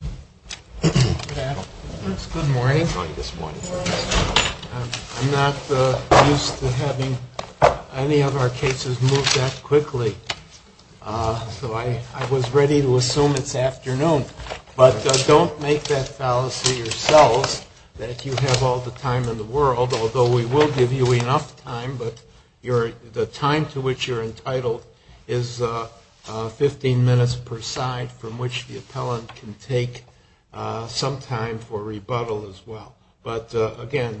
Good morning. I'm not used to having any of our cases move that quickly, so I was ready to assume it's afternoon. But don't make that balance for yourselves that you have all the time in the world, although we will give you enough time, but the time to which you're going to take some time for rebuttal as well. But again,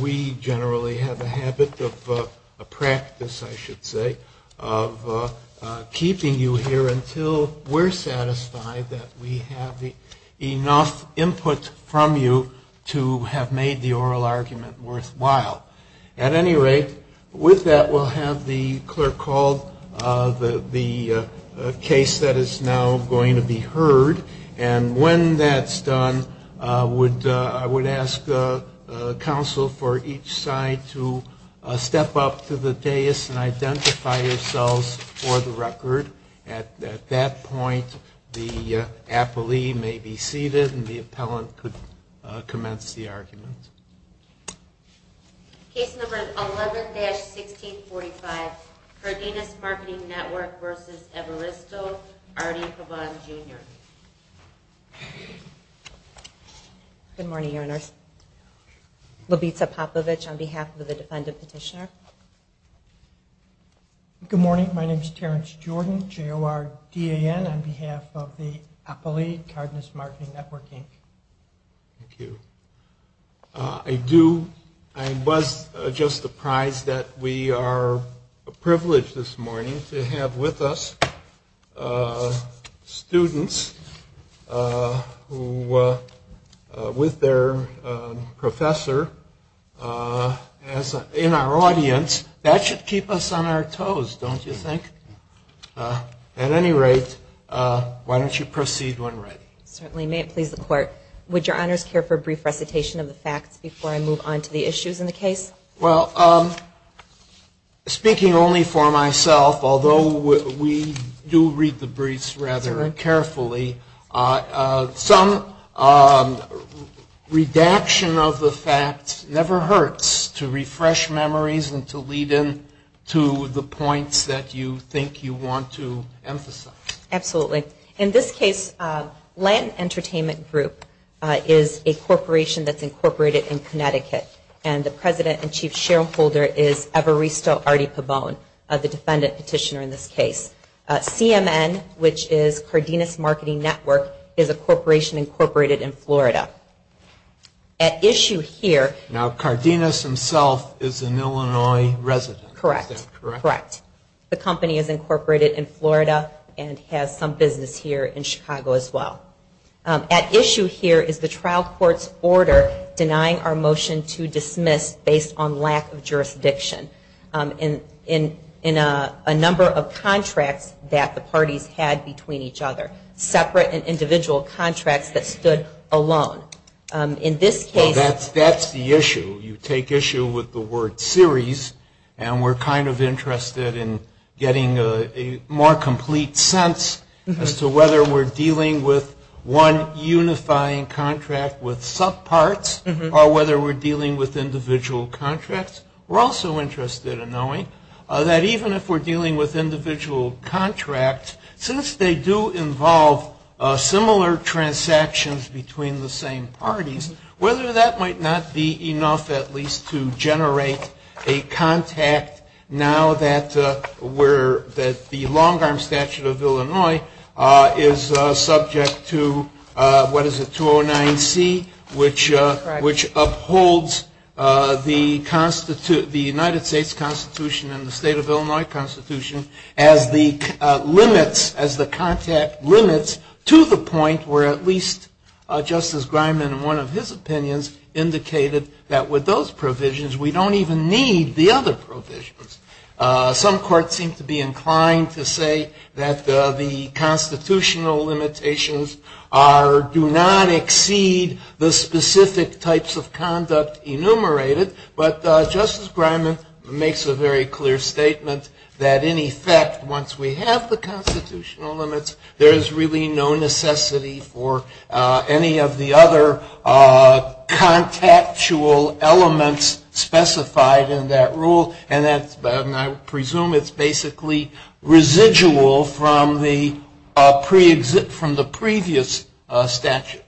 we generally have a habit of practice, I should say, of keeping you here until we're satisfied that we have enough input from you to have made the oral argument worthwhile. At any rate, with that, we'll have the clerk call the case that is now going to be heard. And when that's done, I would ask counsel for each side to step up to the dais and identify yourselves for the record. At that point, the appellee may be seated and the appellant could commence the argument. Case number 11-1645, Cardenas Marketing Network v. Evaristo, R.D. Pabon, Jr. Good morning, Your Honors. Lovisa Popovich on behalf of the defendant's petitioner. Good morning. My name is Terrence Jordan, J-O-R-D-A-N, on behalf of the appellee, Cardenas Marketing Network, Inc. Thank you. I was just surprised that we are privileged this morning to have with us students who, with their professor in our audience, that should keep us on our toes, don't you think? At any rate, why don't you proceed when ready. Certainly. May it please the court, would Your Honors care for a brief recitation of the facts before I move on to the issues in the case? Well, speaking only for myself, although we do read the briefs rather carefully, some redaction of the facts never hurts to refresh memories and to lead them to the point that you think you want to emphasize. Absolutely. In this case, Land Entertainment Group is a corporation that's incorporated in Connecticut and the president and chief shareholder is Evaristo R.D. Pabon, the defendant petitioner in this case. CMN, which is Cardenas Marketing Network, is a corporation incorporated in Florida. At issue here... Now, Cardenas himself is an Illinois resident. Correct. The company is incorporated in Florida and has some business here in Chicago as well. At issue here is the trial court's order denying our motion to dismiss based on lack of jurisdiction in a number of contracts that the parties had between each other, separate and individual contracts that stood alone. In this case... We're kind of interested in getting a more complete sense as to whether we're dealing with one unifying contract with subparts or whether we're dealing with individual contracts. We're also interested in knowing that even if we're dealing with individual contracts, since they do involve similar transactions between the same parties, whether that might not be enough at least to generate a contact now that the long arm statute of Illinois is subject to, what is it, 209C, which upholds the United States Constitution and the state of Illinois Constitution as the limits, as the contact limits, to the point where at least Justice Griman, in one of his opinions, indicated that with those provisions we don't even need the other provisions. Some courts seem to be inclined to say that the constitutional limitations do not exceed the specific types of conduct enumerated, but Justice Griman makes a very clear statement that, in effect, once we have the constitutional limits, there is really no necessity for any of the other contactual elements specified in that rule, and I presume it's basically residual from the previous statute.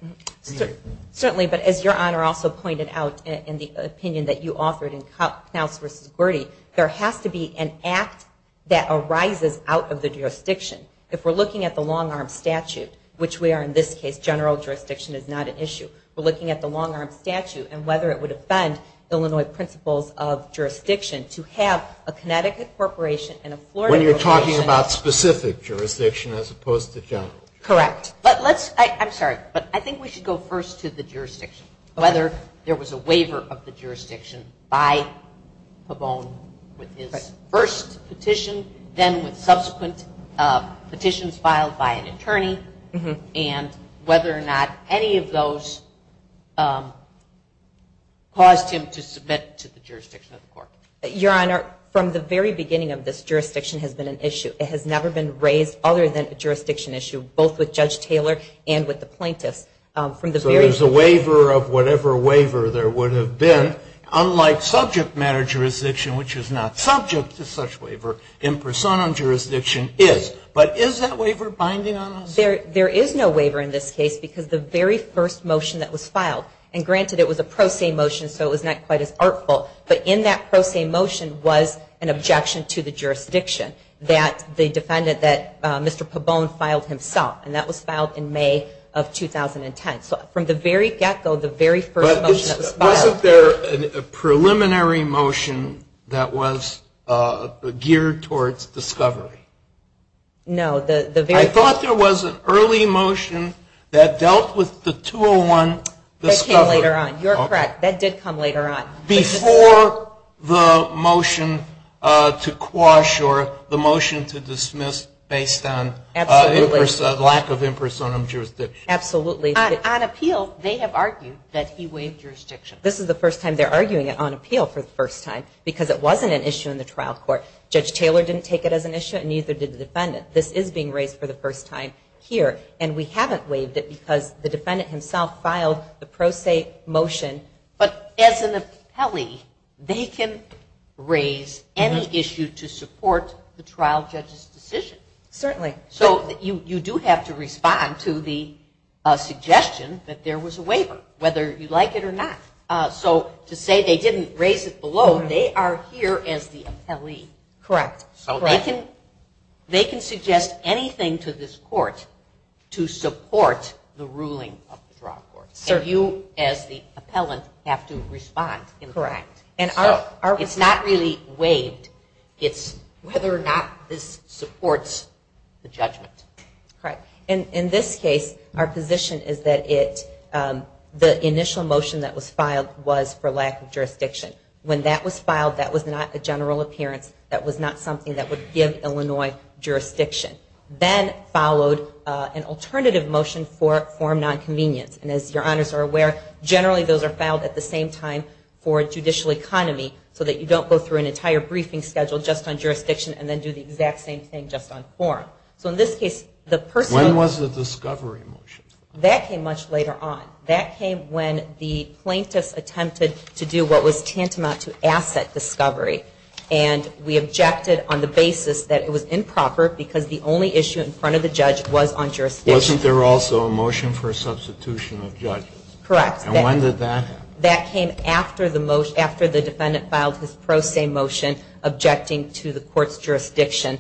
Certainly, but as Your Honor also pointed out in the opinion that you offered in South v. Birding, there has to be an act that arises out of the jurisdiction. If we're looking at the long arm statute, which we are in this case, general jurisdiction is not an issue, we're looking at the long arm statute and whether it would offend Illinois principles of jurisdiction to have a Connecticut corporation and a Florida corporation... When you're talking about specific jurisdiction as opposed to general. Correct. I'm sorry, but I think we should go first to the jurisdiction, whether there was a waiver of the jurisdiction by Pavone with his first petition, then subsequent petitions filed by an attorney, and whether or not any of those caused him to submit to the jurisdiction of the court. Your Honor, from the very beginning of this, jurisdiction has been an issue. It has never been raised other than a jurisdiction issue, both with Judge Taylor and with the plaintiffs. So there's a waiver of whatever waiver there would have been, unlike subject matter jurisdiction, which is not subject to such waiver in persona jurisdiction is. But is that waiver binding on us? There is no waiver in this case because the very first motion that was filed, and granted it was a pro se motion so it was not quite as artful, but in that pro se motion was an objection to the jurisdiction that the defendant, that Mr. Pavone filed himself, and that was filed in May of 2010. So from the very get-go, the very first motion. Wasn't there a preliminary motion that was geared towards discovery? No. I thought there was an early motion that dealt with the 201 discovery. That came later on. You're correct. That did come later on. Before the motion to quash or the motion to dismiss based on lack of impersonum jurisdiction. Absolutely. On appeal, they have argued that he waived jurisdiction. This is the first time they're arguing it on appeal for the first time, because it wasn't an issue in the trial court. Judge Taylor didn't take it as an issue and neither did the defendant. This is being raised for the first time here, and we haven't waived it because the defendant himself filed the pro se motion. But as an appellee, they can raise any issue to support the trial judge's decision. Certainly. So you do have to respond to the suggestion that there was a waiver, whether you like it or not. So to say they didn't raise it below, they are here as the appellee. Correct. They can suggest anything to this court to support the ruling of the trial court. So you, as the appellant, have to respond. Correct. It's not really waived. It's whether or not this supports the judgment. Correct. In this case, our position is that the initial motion that was filed was for lack of jurisdiction. When that was filed, that was not a general appearance. That was not something that would give Illinois jurisdiction. Then followed an alternative motion for form non-convenience. And as your honors are aware, generally those are filed at the same time for judicial economy so that you don't go through an entire briefing schedule just on jurisdiction and then do the exact same thing just on form. When was the discovery motion? That came much later on. That came when the plaintiff attempted to do what was tantamount to asset discovery. And we objected on the basis that it was improper because the only issue in front of the judge was on jurisdiction. Wasn't there also a motion for substitution of judges? Correct. And when did that happen? That came after the defendant filed his pro se motion objecting to the court's jurisdiction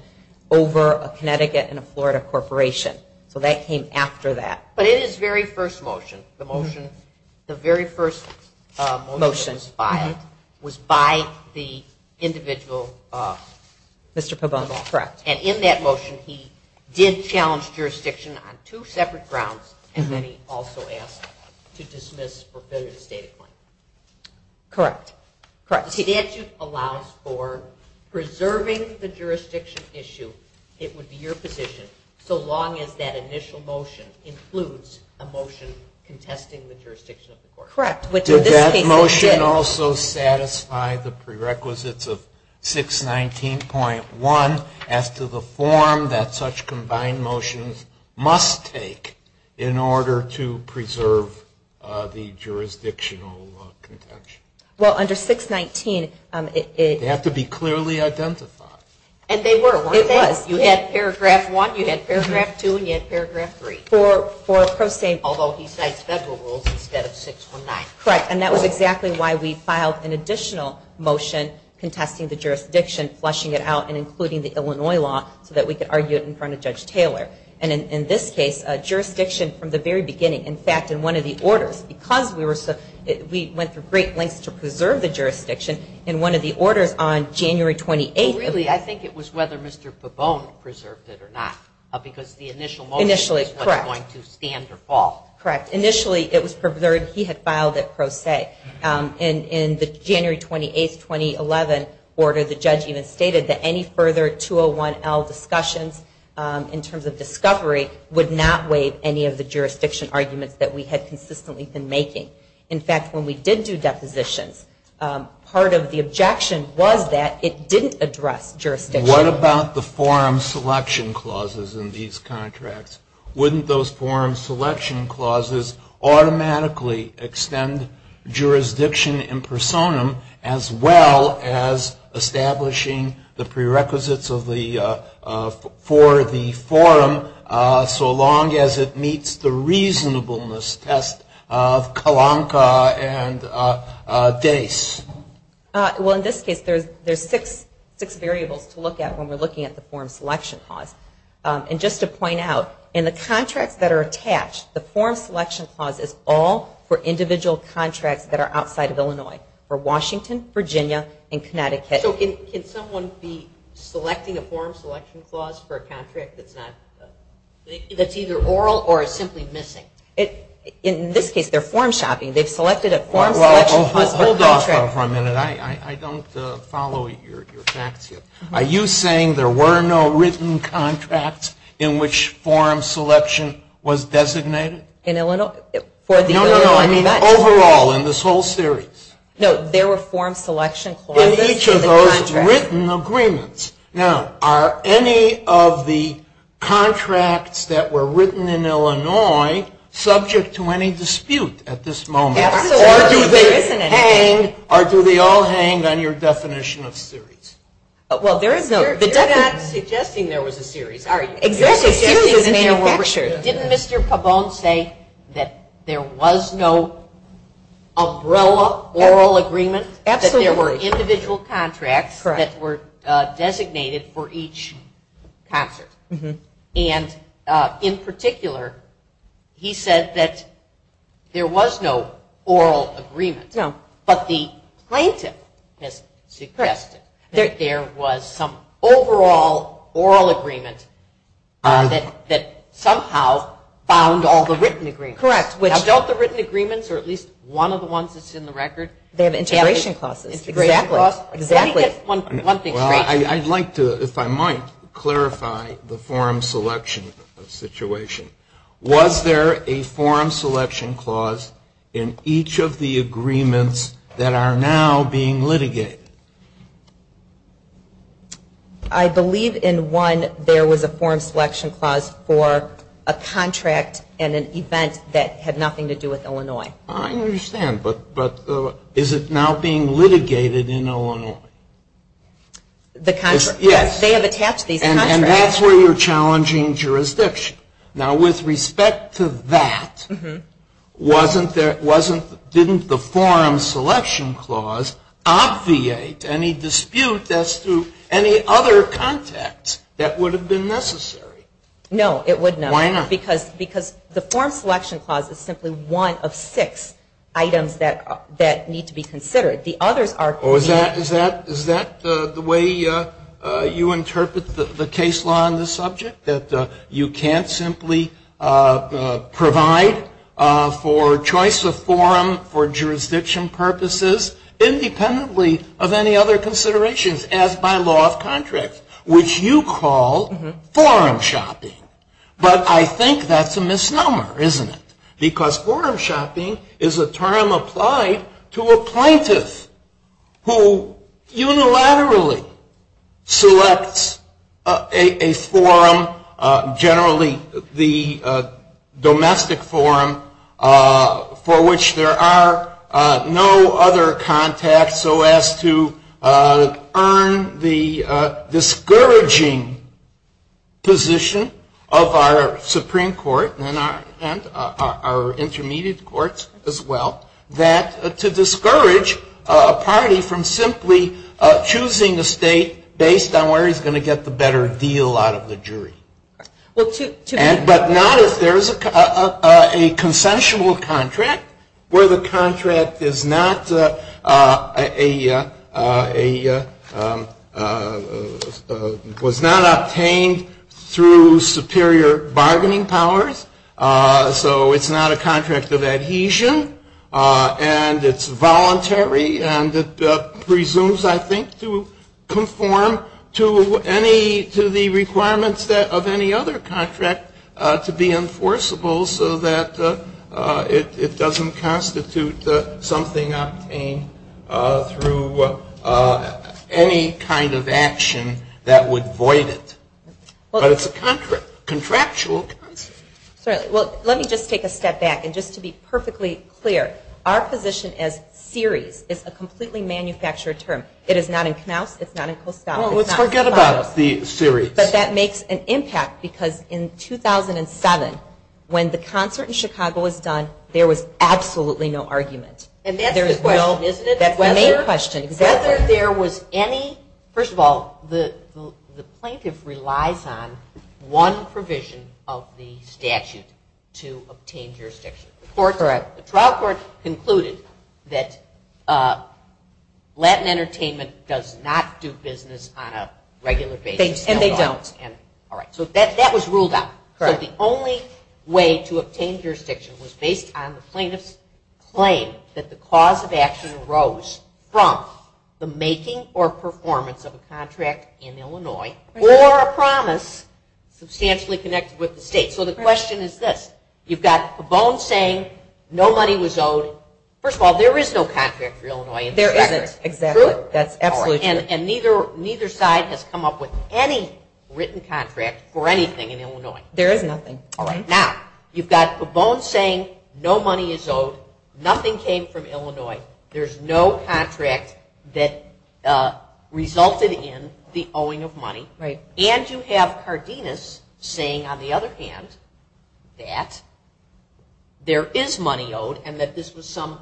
over a Connecticut and a Florida corporation. So that came after that. But it is the very first motion. The very first motion that was filed was by the individual, Mr. Cabomo. Correct. And in that motion he did challenge jurisdiction on two separate grounds and then he also asked to dismiss or fulfill his data claim. Correct. Correct. So the statute allows for preserving the jurisdiction issue, it would be your position, so long as that initial motion includes a motion contesting the jurisdiction of the court. Correct. Did that motion also satisfy the prerequisites of 619.1 as to the form that such combined motions must take in order to preserve the jurisdictional contention? Well, under 619 it… They have to be clearly identified. And they were. They were. You had paragraph one, you had paragraph two, and you had paragraph three. Although he cites federal rules instead of 619. Correct. And that was exactly why we filed an additional motion contesting the jurisdiction, flushing it out, and including the Illinois law so that we could argue it in front of Judge Taylor. And in this case, jurisdiction from the very beginning, in fact, in one of the orders, because we went to great lengths to preserve the jurisdiction, in one of the orders on January 28th… Really, I think it was whether Mr. Cabomo preserved it or not, because the initial motion… Correct.… was going to stand or fall. Correct. Initially, it was preserved. He had filed it pro se. And in the January 28th, 2011 order, the judge even stated that any further 201L discussions, in terms of discovery, would not waive any of the jurisdiction arguments that we had consistently been making. In fact, when we did do depositions, part of the objection was that it didn't address jurisdiction. What about the forum selection clauses in these contracts? Wouldn't those forum selection clauses automatically extend jurisdiction in personam, as well as establishing the prerequisites for the forum, so long as it meets the reasonableness test of Kalonka and Dace? Well, in this case, there's six variables to look at when we're looking at the forum selection clause. And just to point out, in the contracts that are attached, the forum selection clause is all for individual contracts that are outside of Illinois, for Washington, Virginia, and Connecticut. So can someone be selecting a forum selection clause for a contract that's not… that's either oral or it's simply missing? In this case, they're forum shopping. Hold on for a minute. I don't follow your facts yet. Are you saying there were no written contracts in which forum selection was designated? No, no, no. I mean overall in this whole series. No, there were forum selection clauses. In each of those written agreements. Now, are any of the contracts that were written in Illinois subject to any dispute at this moment? Absolutely. Or do they all hang on your definition of series? Well, there is a… You're not suggesting there was a series. Didn't Mr. Pabon say that there was no umbrella oral agreement? Absolutely. He said that there were individual contracts that were designated for each concert. And in particular, he said that there was no oral agreement. No. But the plaintiff has suggested that there was some overall oral agreement that somehow bound all the written agreements. Correct. Not just the written agreements or at least one of the ones that's in the record. They have integration clauses. Exactly. Let me get one thing. Well, I'd like to, if I might, clarify the forum selection situation. Was there a forum selection clause in each of the agreements that are now being litigated? I believe in one there was a forum selection clause for a contract and an event that had nothing to do with Illinois. I understand. But is it now being litigated in Illinois? The contract. Yes. They have attached a contract. And that's where you're challenging jurisdiction. Now, with respect to that, didn't the forum selection clause obviate any dispute as to any other context that would have been necessary? No, it would not. Why not? Because the forum selection clause is simply one of six items that need to be considered. Is that the way you interpret the case law on this subject, that you can't simply provide for choice of forum for jurisdiction purposes independently of any other considerations as by law of contract, which you call forum shopping? But I think that's a misnomer, isn't it? Because forum shopping is a term applied to apprentice who unilaterally selects a forum, generally the domestic forum for which there are no other contacts so as to earn the discouraging position of our Supreme Court and our intermediate courts as well, that to discourage a party from simply choosing a state based on where he's going to get the better deal out of the jury. But now that there's a consensual contract where the contract was not obtained through superior bargaining powers, so it's not a contract of adhesion, and it's voluntary, and it presumes, I think, to conform to the requirements of any other contract to be enforceable so that it doesn't constitute something through any kind of action that would void it. But it's a contractual term. Well, let me just take a step back. And just to be perfectly clear, our position as series is a completely manufactured term. It is not in Snout, it's not in Coast Guard. Forget about the series. But that makes an impact because in 2007, when the concert in Chicago was done, there was absolutely no argument. And that's the question, isn't it? That's the main question. First of all, the plaintiff relies on one provision of the statute to obtain jurisdiction. Correct. The trial court concluded that Latin Entertainment does not do business on a regular basis. And they don't. So that was ruled out. But the only way to obtain jurisdiction was based on the plaintiff's claim that the cause of action arose from the making or performance of a contract in Illinois or a promise substantially connected with the state. So the question is this. You've got the bone saying no money was owed. First of all, there is no contract for Illinois. There isn't. Exactly. And neither side has come up with any written contract for anything in Illinois. There is nothing. Now, you've got the bone saying no money is owed. Nothing came from Illinois. There's no contract that resulted in the owing of money. Right. And you have Cardenas saying, on the other hand, that there is money owed and that this was some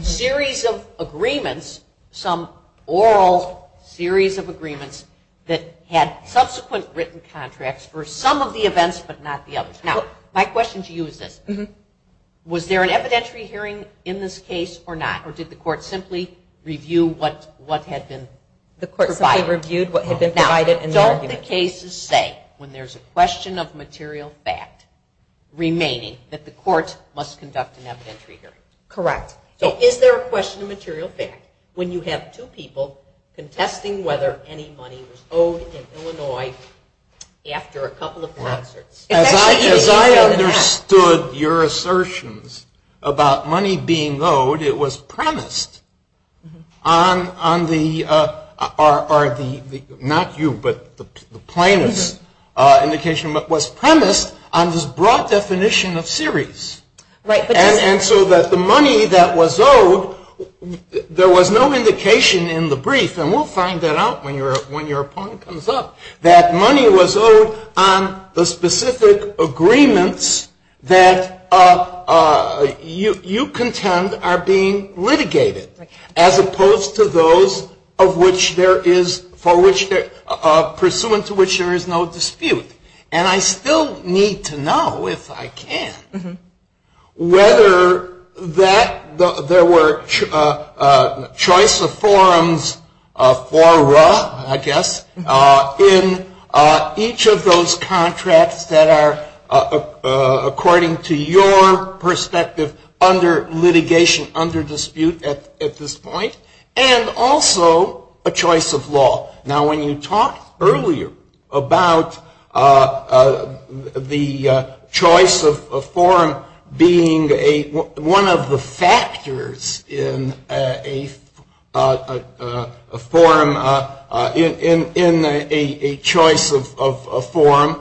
series of agreements, some oral series of agreements that had subsequent written contracts for some of the events but not the others. Now, my question to you is this. Was there an evidentiary hearing in this case or not? Or did the court simply review what had been provided? The court simply reviewed what had been provided in the argument. Now, don't the cases say, when there's a question of material fact remaining, that the court must conduct an evidentiary hearing? Correct. So is there a question of material fact when you have two people contesting whether any money was owed in Illinois after a couple of contracts? As I understood your assertions about money being owed, it was premised on the, not you, but the plaintiff's indication, but was premised on this broad definition of series. Right. And so that the money that was owed, there was no indication in the brief, and we'll find that out when your point comes up, that money was owed on the specific agreements that you contend are being litigated, as opposed to those of which there is, for which there, pursuant to which there is no dispute. And I still need to know, if I can, whether that, there were choice of forms for, I guess, in each of those contracts that are, according to your perspective, under litigation, under dispute at this point, and also a choice of law. Now, when you talked earlier about the choice of form being one of the factors in a form, in a choice of form,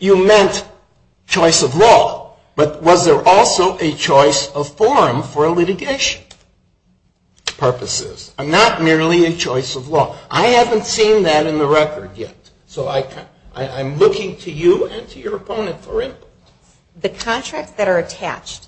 you meant choice of law, but was there also a choice of form for litigation purposes, not merely a choice of law? I haven't seen that in the record yet, so I'm looking to you and to your opponent for input. The contracts that are attached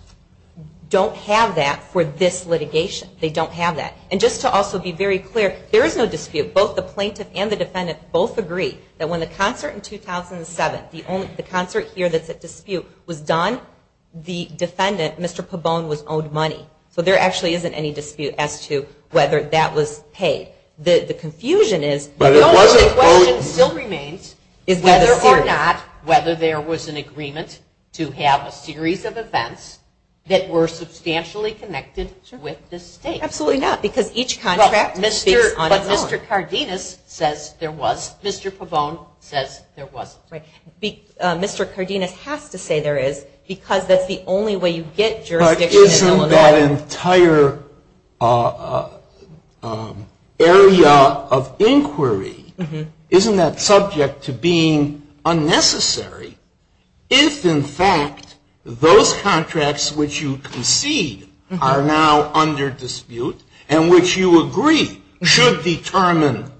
don't have that for this litigation. They don't have that. And just to also be very clear, there is no dispute. Both the plaintiff and the defendant both agree that when the concert in 2007, the concert here that the dispute was done, the defendant, Mr. Pabon, was owed money. So there actually isn't any dispute as to whether that was paid. The confusion is whether or not, whether there was an agreement to have a series of events that were substantially connected with the state. Absolutely not, because each contract is on its own. But Mr. Cardenas says there was. Mr. Pabon says there wasn't. Mr. Cardenas has to say there is, because that's the only way you get jurisdiction. But isn't that entire area of inquiry, isn't that subject to being unnecessary? If, in fact, those contracts which you concede are now under dispute and which you agree should determine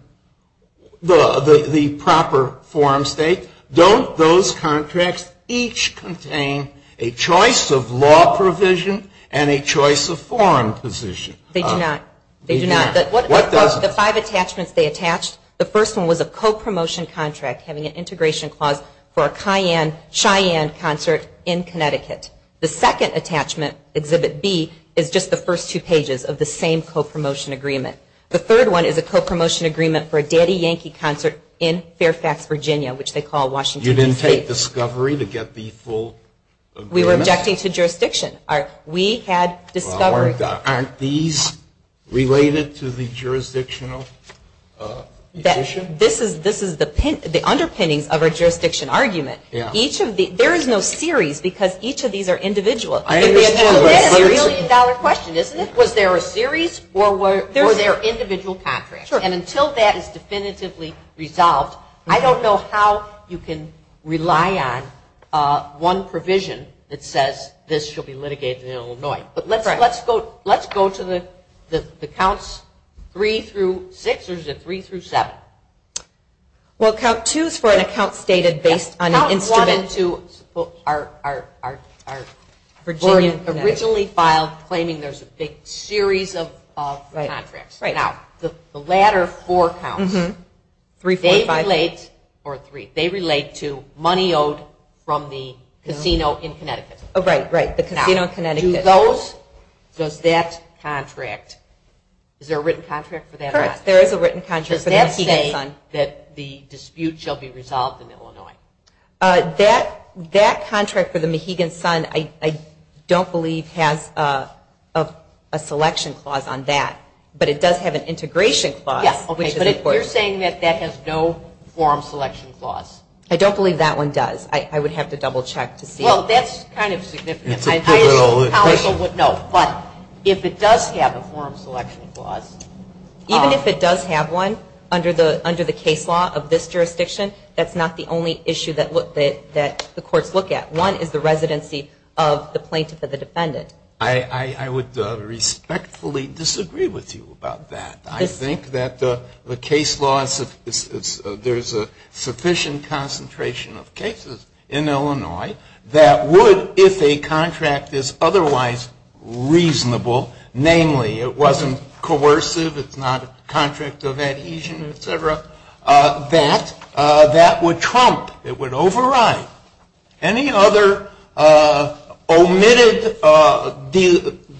the proper forum state, don't those contracts each contain a choice of law provision and a choice of forum position? They do not. They do not. The five attachments they attach, the first one was a co-promotion contract, having an integration clause for a Cheyenne concert in Connecticut. The second attachment, Exhibit B, is just the first two pages of the same co-promotion agreement. The third one is a co-promotion agreement for a Daddy Yankee concert in Fairfax, Virginia, which they call Washington, D.C. You didn't take discovery to get the full agreement? We were objecting to jurisdiction. We had discovery. Aren't these related to the jurisdictional issue? This is the underpinning of our jurisdiction argument. There is no series because each of these are individual. It's a really solid question. Was there a series or were there individual contracts? Until that is definitively resolved, I don't know how you can rely on one provision that says this should be litigated in Illinois. Let's go to the counts three through six or three through seven. Count two is for an account stated based on an instrument to our Virginia originally filed claiming there is a big series of contracts. The latter four counts, they relate to money owed from the casino in Connecticut. Does that contract, is there a written contract for that or not? There is a written contract. Does that say that the dispute shall be resolved in Illinois? That contract for the Mahegan Sun I don't believe has a selection clause on that, but it does have an integration clause. Yes, but you're saying that that has no forum selection clause. I don't believe that one does. I would have to double check to see. Well, that's kind of significant. No, but if it does have a forum selection clause. Even if it does have one under the case law of this jurisdiction, that's not the only issue that the courts look at. One is the residency of the plaintiff and the defendant. I would respectfully disagree with you about that. I think that the case law, there's a sufficient concentration of cases in Illinois that would, if a contract is otherwise reasonable, namely it wasn't coercive, it's not a contract of adhesion, et cetera, that that would trump, it would override any other omitted,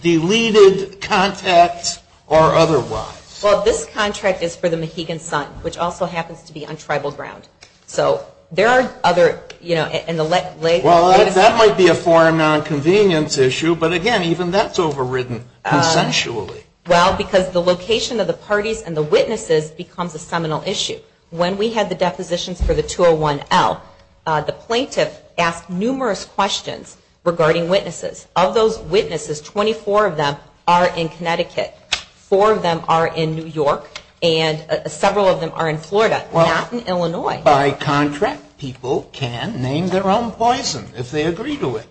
deleted contacts or otherwise. Well, this contract is for the Mahegan Sun, which also happens to be on tribal grounds. So there are other, you know, in the legislation. Well, that might be a foreign nonconvenience issue, but again, even that's overridden consensually. Well, because the location of the parties and the witnesses becomes a seminal issue. When we had the deposition for the 201L, the plaintiffs asked numerous questions regarding witnesses. Of those witnesses, 24 of them are in Connecticut. Four of them are in New York, and several of them are in Florida, not in Illinois. By contract, people can name their own poison if they agree to it.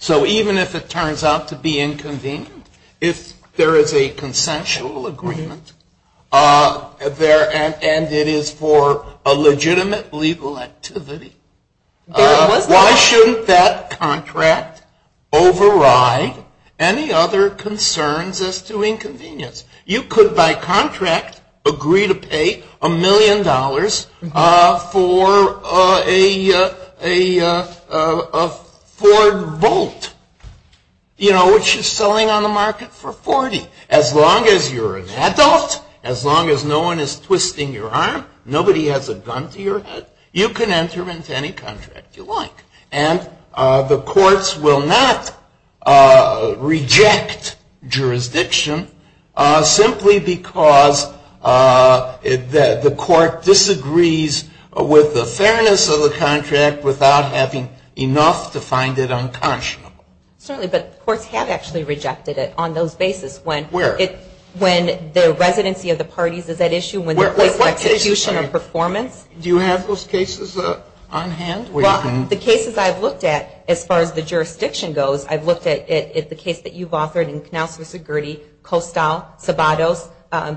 So even if it turns out to be inconvenient, if there is a consensual agreement, and it is for a legitimate legal activity, why shouldn't that contract override any other concerns as to inconvenience? You could, by contract, agree to pay a million dollars for a Ford Volt, you know, which is selling on the market for $40. As long as you're an adult, as long as no one is twisting your arm, nobody has a gun to your head, you can enter into any contract you like. And the courts will not reject jurisdiction simply because the court disagrees with the fairness of the contract without having enough to find it unconscionable. Certainly, but courts have actually rejected it on those basis. Where? When the residency of the parties is at issue, when the court's execution and performance. Do you have those cases on hand? Well, the cases I've looked at, as far as the jurisdiction goes, I've looked at the case that you've authored in Knauss v. Gurdie, Coastal, Tabatos,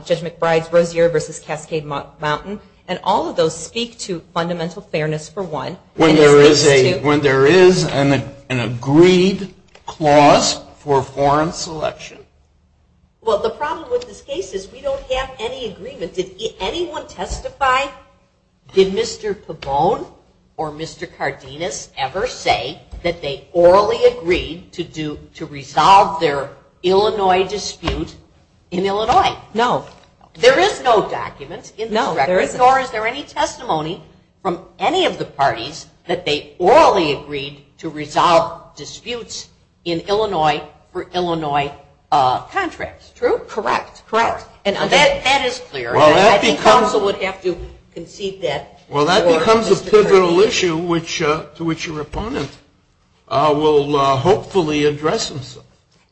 Judge McBride's Rozier v. Cascade Mountain. And all of those speak to fundamental fairness for one. When there is an agreed clause for foreign selection. Well, the problem with this case is we don't have any agreement. Did anyone testify? Did Mr. Pabon or Mr. Cardenas ever say that they orally agreed to resolve their Illinois dispute in Illinois? No. There is no document in the record, nor is there any testimony from any of the parties that they orally agreed to resolve disputes in Illinois for Illinois contracts. True? Correct. That is clear. I think counsel would have to concede that. Well, that becomes a federal issue to which your opponent will hopefully address this.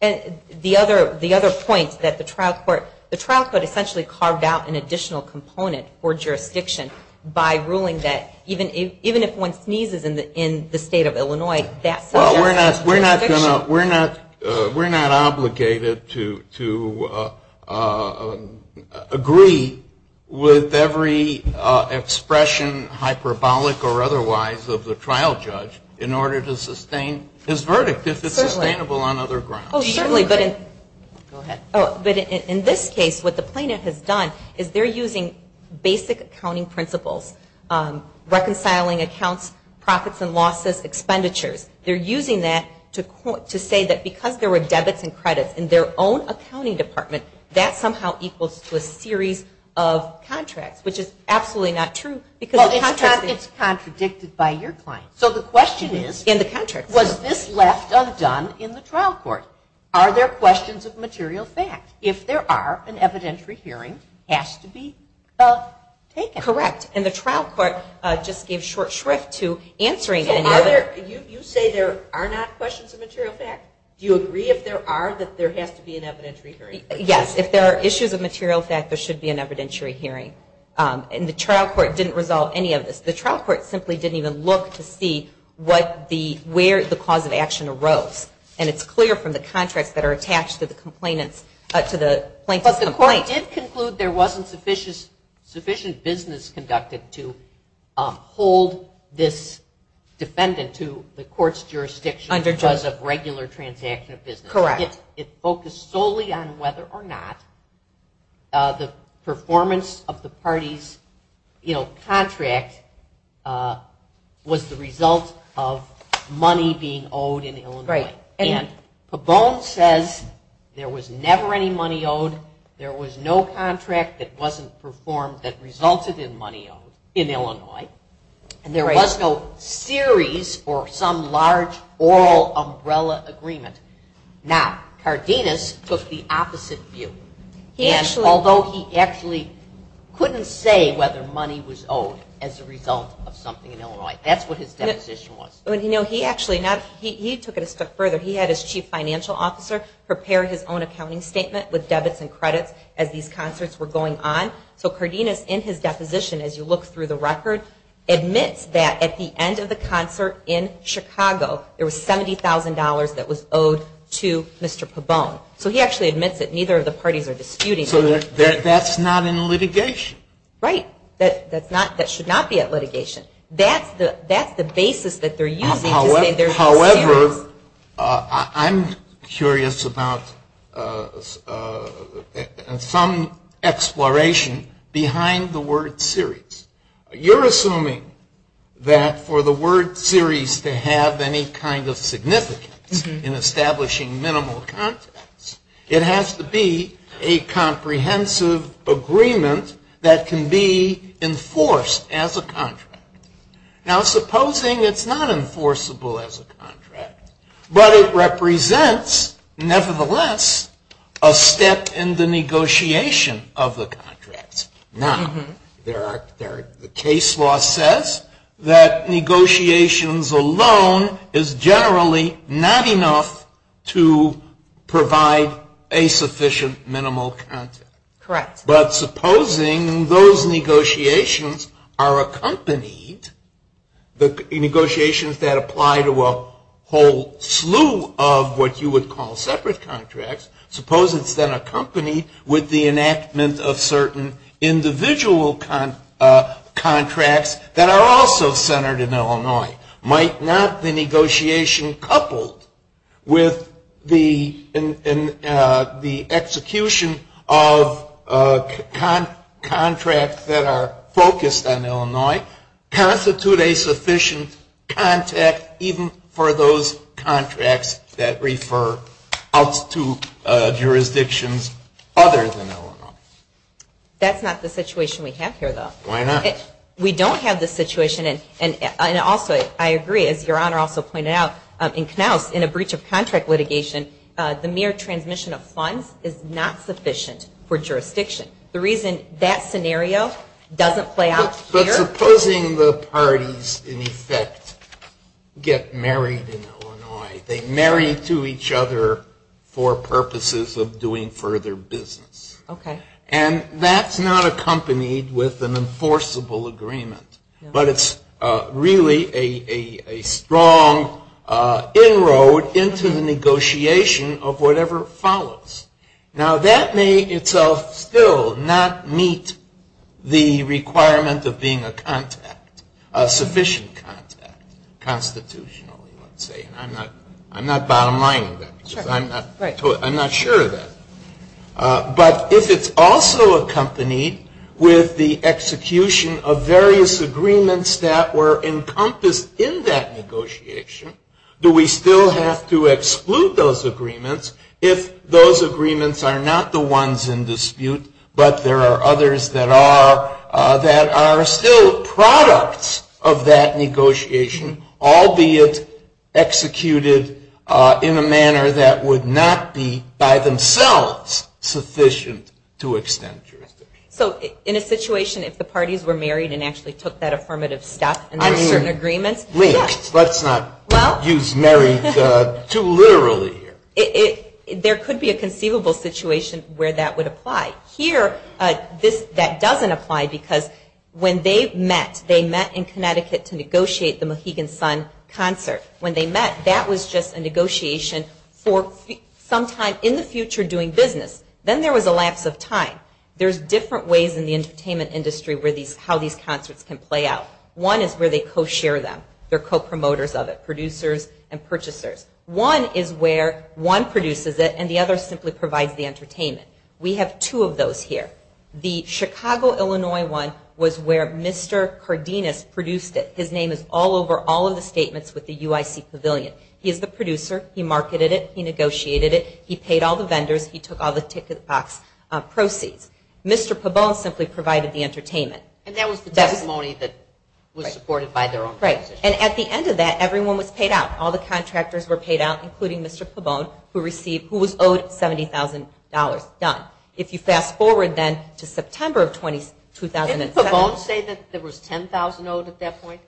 And the other point that the trial court, the trial court essentially carved out an additional component for jurisdiction by ruling that even if one sneezes in the state of Illinois, Well, we're not obligated to agree with every expression, hyperbolic or otherwise, of the trial judge in order to sustain his verdict if it's sustainable on other grounds. Oh, certainly. Go ahead. But in this case, what the plaintiff has done is they're using basic accounting principles, reconciling accounts, profits and losses, expenditures. They're using that to say that because there were debits and credits in their own accounting department, that somehow equals to a series of contracts, which is absolutely not true. Well, it's contradicted by your client. So the question is, was this left undone in the trial court? Are there questions of material facts? If there are, an evidentiary hearing has to be taken. Correct. And the trial court just gave short shrift to answering. You say there are not questions of material facts? Do you agree if there are that there has to be an evidentiary hearing? Yes. If there are issues of material facts, there should be an evidentiary hearing. And the trial court didn't resolve any of this. The trial court simply didn't even look to see where the cause of action arose. And it's clear from the contracts that are attached to the plaintiff's complaint. But the court did conclude there wasn't sufficient business conducted to hold this defendant to the court's jurisdiction because of regular transaction of business. Correct. It focused solely on whether or not the performance of the party's contract was the result of money being owed in Illinois. And Cabone says there was never any money owed. There was no contract that wasn't performed that resulted in money owed in Illinois. And there was no series or some large oral umbrella agreement. Now, Cardenas took the opposite view. And although he actually couldn't say whether money was owed as a result of something in Illinois, that's what his proposition was. He took it a step further. He had his chief financial officer prepare his own accounting statement with debits and credits as these concerts were going on. So Cardenas, in his deposition, as you look through the records, admits that at the end of the concert in Chicago, there was $70,000 that was owed to Mr. Cabone. So he actually admits that neither of the parties are disputing that. So that's not in the litigation. Right. That should not be at litigation. That's the basis that they're using. However, I'm curious about some exploration behind the word series. You're assuming that for the word series to have any kind of significance in establishing minimal confidence, it has to be a comprehensive agreement that can be enforced as a contract. Now, supposing it's not enforceable as a contract, but it represents, nevertheless, a step in the negotiation of the contract. Now, the case law says that negotiations alone is generally not enough to provide a sufficient minimal confidence. Correct. But supposing those negotiations are accompanied, the negotiations that apply to a whole slew of what you would call separate contracts, supposing it's been accompanied with the enactment of certain individual contracts that are also centered in Illinois, might not the negotiation coupled with the execution of contracts that are focused on Illinois constitute a sufficient contact even for those contracts that refer up to jurisdictions other than Illinois? That's not the situation we have here, though. Why not? We don't have the situation, and also, I agree, as Your Honor also pointed out, in Knauss, in a breach of contract litigation, the mere transmission of funds is not sufficient for jurisdiction. The reason that scenario doesn't play out here. But supposing the parties, in effect, get married in Illinois. They marry to each other for purposes of doing further business. Okay. And that's not accompanied with an enforceable agreement, but it's really a strong inroad into the negotiation of whatever follows. Now, that may itself still not meet the requirement of being a contact, a sufficient contact, constitutionally. I'm not bottom-lining that. I'm not sure of that. But if it's also accompanied with the execution of various agreements that were encompassed in that negotiation, do we still have to exclude those agreements if those agreements are not the ones in dispute, but there are others that are still products of that negotiation, albeit executed in a manner that would not be, by themselves, sufficient to extend jurisdiction? So in a situation, if the parties were married and actually took that affirmative step in that agreement? Yes. Let's not use married too literally here. There could be a conceivable situation where that would apply. Here, that doesn't apply because when they met, they met in Connecticut to negotiate the Mohegan Sun concert. When they met, that was just a negotiation for sometimes in the future doing business. Then there was a lapse of time. There's different ways in the entertainment industry how these concerts can play out. One is where they co-share them. They're co-promoters of it, producers and purchasers. One is where one produces it and the other simply provides the entertainment. We have two of those here. The Chicago, Illinois one was where Mr. Cardenas produced it. His name is all over all of the statements with the UIC Pavilion. He's the producer. He marketed it. He negotiated it. He paid all the vendors. He took all the ticket box proceeds. Mr. Pabon simply provided the entertainment. That was the testimony that was supported by their own proposition. At the end of that, everyone was paid out. All the contractors were paid out including Mr. Pabon who was owed $70,000. Done. If you fast forward then to September of 2007. Did Pabon say that there was $10,000 owed at that point?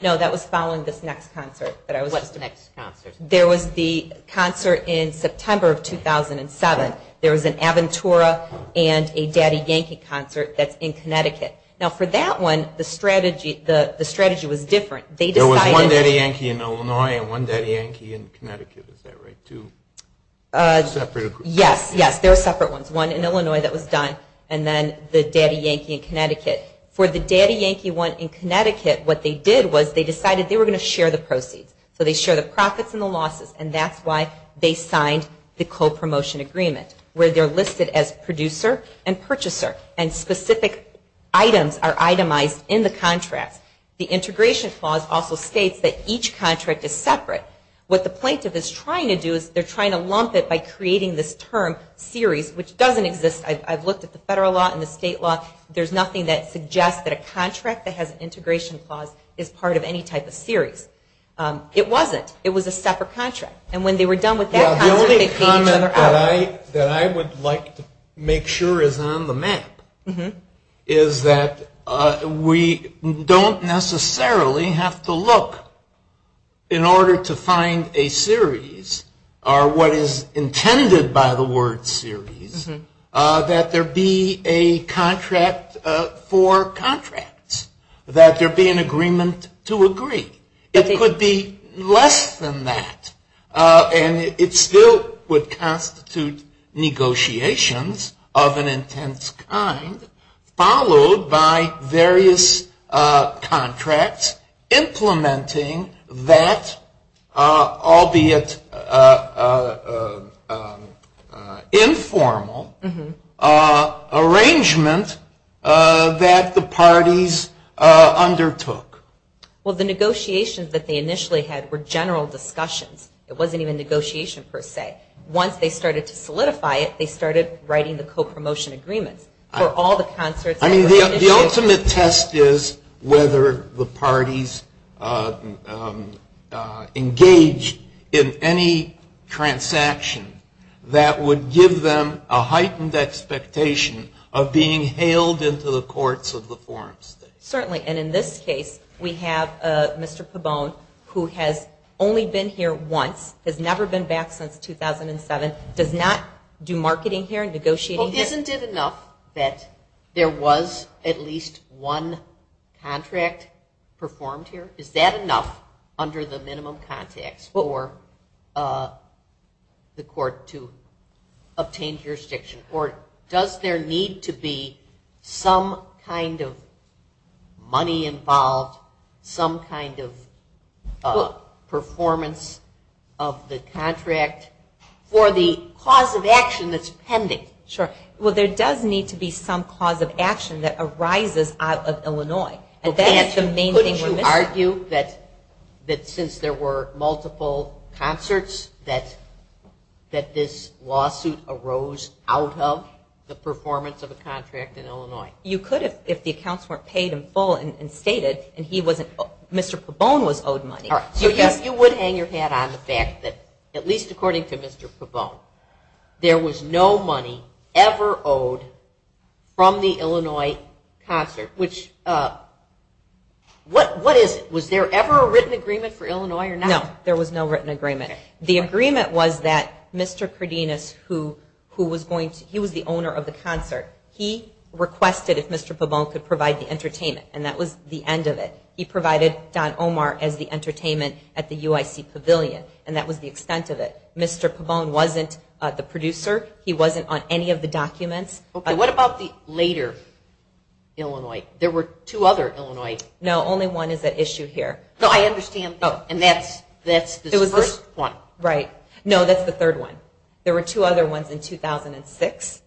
No, that was following this next concert. What's the next concert? There was the concert in September of 2007. There was an Aventura and a Daddy Yankee concert that's in Connecticut. For that one, the strategy was different. There was one Daddy Yankee in Illinois and one Daddy Yankee in Connecticut. Is that right? Two separate groups. Yes, there were separate ones. One in Illinois that was done and then the Daddy Yankee in Connecticut. For the Daddy Yankee one in Connecticut, what they did was they decided they were going to share the proceeds. They shared the profits and the losses and that's why they signed the co-promotion agreement where they're listed as producer and purchaser and specific items are itemized in the contract. The integration clause also states that each contract is separate. What the plaintiff is trying to do is they're trying to lump it by creating this term series which doesn't exist. I've looked at the federal law and the state law. There's nothing that suggests that a contract that has an integration clause is part of any type of series. It wasn't. It was a separate contract. And when they were done with that contract- The only comment that I would like to make sure is on the map is that we don't necessarily have to look in order to find a series or what is intended by the word series that there be a contract for contracts, that there be an agreement to agree. It could be less than that and it still would constitute negotiations of an intense kind followed by various contracts implementing that, albeit informal, arrangement that the parties undertook. Well, the negotiations that they initially had were general discussions. It wasn't even negotiation per se. Once they started to solidify it, they started writing the co-promotion agreement for all the concerts- I mean, the ultimate test is whether the parties engage in any transaction that would give them a heightened expectation of being hailed into the courts of the foreign state. Certainly. And in this case, we have Mr. Cabone who has only been here once, has never been back since 2007, does not do marketing here, negotiating here. Well, isn't it enough that there was at least one contract performed here? Is that enough under the minimum context for the court to obtain jurisdiction? Or does there need to be some kind of money involved, some kind of performance of the contract for the cause of action that's pending? Sure. Well, there does need to be some cause of action that arises out of Illinois. Couldn't you argue that since there were multiple concerts, that this lawsuit arose out of the performance of a contract in Illinois? You could if the accounts weren't paid in full and stated, and Mr. Cabone was owed money. You would hang your hat on the fact that, at least according to Mr. Cabone, there was no money ever owed from the Illinois concert. What is it? Was there ever a written agreement for Illinois or not? No, there was no written agreement. The agreement was that Mr. Cardenas, who was the owner of the concert, he requested if Mr. Cabone could provide the entertainment, and that was the end of it. He provided Don Omar as the entertainment at the UIC Pavilion, and that was the expense of it. Mr. Cabone wasn't the producer. He wasn't on any of the documents. Okay. What about the later Illinois? There were two other Illinois. No, only one is at issue here. No, I understand, and that's the first one. Right. No, that's the third one. There were two other ones in 2006.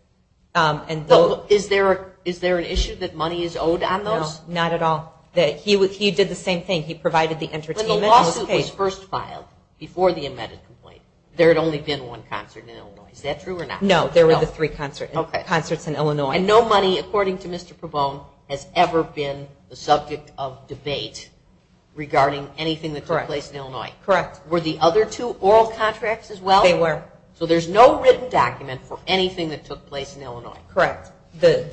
Is there an issue that money is owed on those? No, not at all. He did the same thing. He provided the entertainment. When the lawsuit was first filed before the embedded complaint, there had only been one concert in Illinois. Is that true or not? No, there were the three concerts in Illinois. And no money, according to Mr. Cabone, has ever been the subject of debate regarding anything that took place in Illinois. Correct. Correct. Were the other two oral contracts as well? They were. So there's no written document for anything that took place in Illinois. Correct. The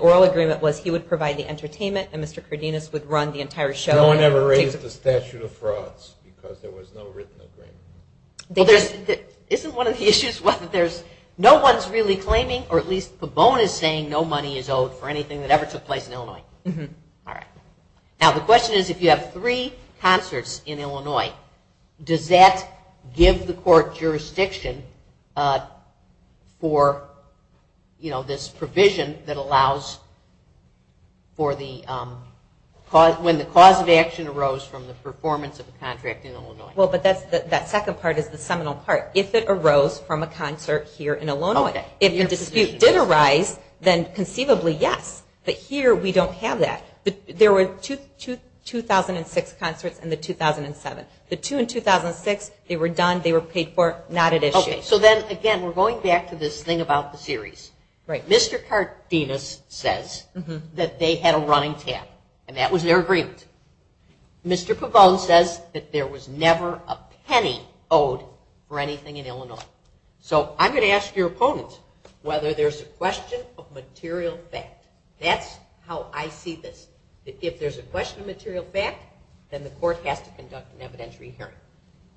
oral agreement was he would provide the entertainment and Mr. Cardenas would run the entire show. No one ever raised the statute of frauds because there was no written agreement. Isn't one of the issues what there's no one's really claiming, or at least Cabone is saying, no money is owed for anything that ever took place in Illinois. All right. Now, the question is if you have three concerts in Illinois, does that give the court jurisdiction for, you know, this provision that allows for the, when the cause of action arose from the performance of the contract in Illinois? Well, but that second part is the seminal part. If it arose from a concert here in Illinois. If the dispute did arise, then conceivably, yes. But here we don't have that. There were two 2006 concerts and the 2007. The two in 2006, they were done, they were paid for, not at issue. Okay. So then, again, we're going back to this thing about the series. Right. Mr. Cardenas says that they had a running tab and that was their agreement. Mr. Cabone says that there was never a penny owed for anything in Illinois. So I'm going to ask your opponents whether there's a question of material fact. That's how I see this. If there's a question of material fact, then the court has to conduct an evidentiary hearing.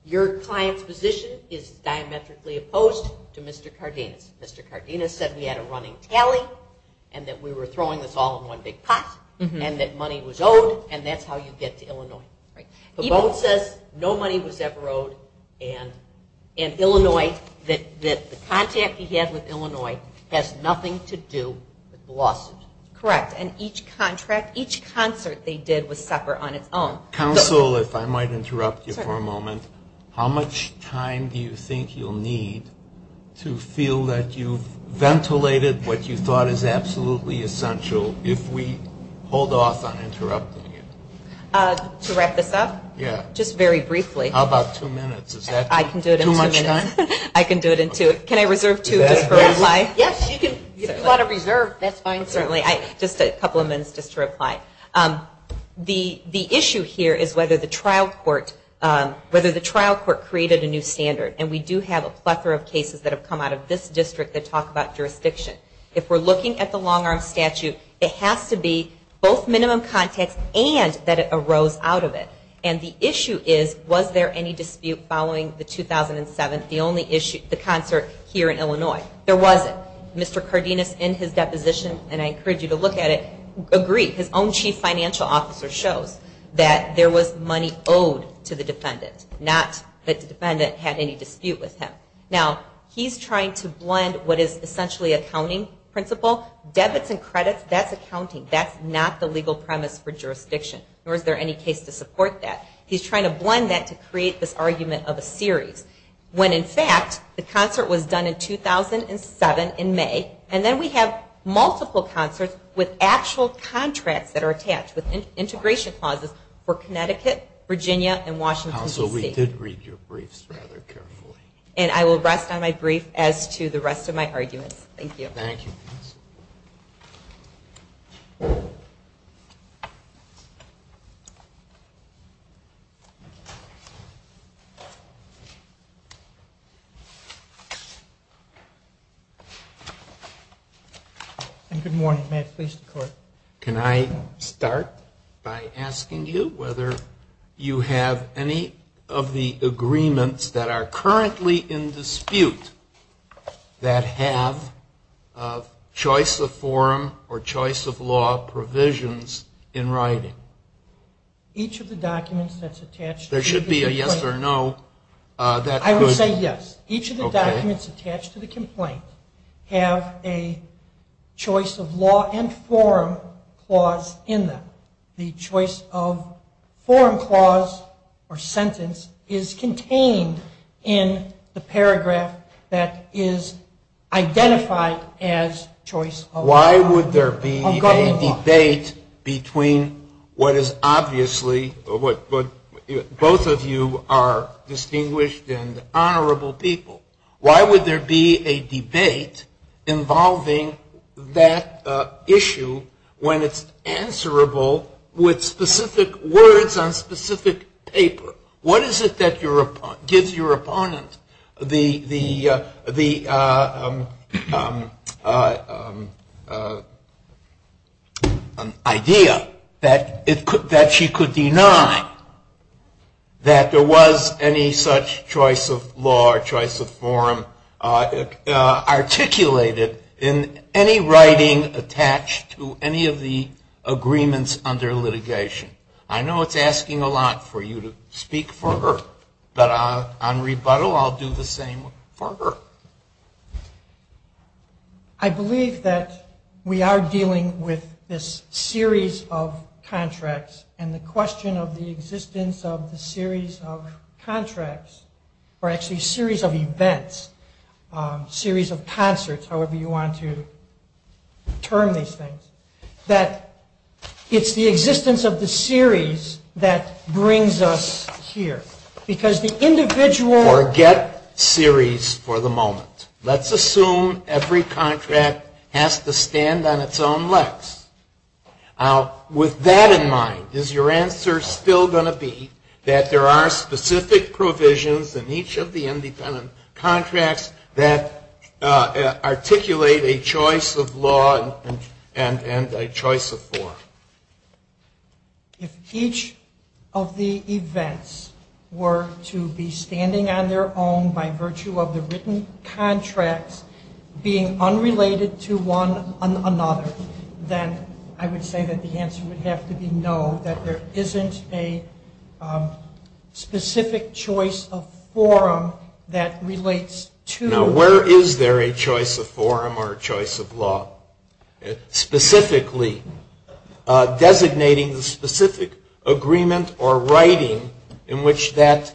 Your client's position is diametrically opposed to Mr. Cardenas. Mr. Cardenas said we had a running tally and that we were throwing this all in one big pot and that money was owed and that's how you get to Illinois. Cabone says no money was ever owed in Illinois, that the contract he had with Illinois has nothing to do with the lawsuits. Correct. And each contract, each concert they did would suffer on its own. Counsel, if I might interrupt you for a moment. How much time do you think you'll need to feel that you've ventilated what you thought is absolutely essential if we hold off on interrupting? To wrap this up? Yeah. Just very briefly. How about two minutes? I can do it in two minutes. Too much time? I can do it in two. Can I reserve two minutes for reply? Yes, you can. If you want to reserve, that's fine, certainly. Just a couple of minutes just to reply. The issue here is whether the trial court created a new standard. And we do have a plethora of cases that have come out of this district that talk about jurisdiction. If we're looking at the long-arm statute, it has to be both minimum context and that it arose out of it. And the issue is, was there any dispute following the 2007, the only issue, the concert here in Illinois? There wasn't. Mr. Cardenas in his deposition, and I encourage you to look at it, agrees. His own chief financial officer shows that there was money owed to the defendant, not that the defendant had any dispute with him. Now, he's trying to blend what is essentially a counting principle. Debits and credits, that's accounting. That's not the legal premise for jurisdiction, nor is there any case to support that. He's trying to blend that to create this argument of a series. When, in fact, the concert was done in 2007, in May, and then we have multiple concerts with actual contracts that are attached, Also, we did read your briefs rather carefully. And I will rest on my brief as to the rest of my arguments. Thank you. Thank you. Thank you. Can I start by asking you whether you have any of the agreements that are currently in dispute that have choice of forum or choice of law provisions in writing? Each of the documents that's attached to the complaint. There should be a yes or no. I would say yes. Each of the documents attached to the complaint have a choice of law and forum clause in them. The choice of forum clause or sentence is contained in the paragraph that is identified as choice of law. Why would there be a debate between what is obviously, both of you are distinguished and honorable people. Why would there be a debate involving that issue when it's answerable with specific words on specific paper? What is it that gives your opponent the idea that she could deny that there was any such choice of law or choice of forum articulated in any writing attached to any of the agreements under litigation? I know it's asking a lot for you to speak for her. But on rebuttal, I'll do the same for her. I believe that we are dealing with this series of contracts and the question of the existence of a series of contracts or actually series of events, series of concerts, however you want to term these things, that it's the existence of the series that brings us here. Because the individual... Forget series for the moment. Let's assume every contract has to stand on its own legs. With that in mind, is your answer still going to be that there are specific provisions in each of the independent contracts that articulate a choice of law and a choice of forum? If each of the events were to be standing on their own by virtue of the written contract being unrelated to one another, then I would say that the answer would have to be no, that there isn't a specific choice of forum that relates to... Now, where is there a choice of forum or a choice of law specifically designating the specific agreement or writing in which that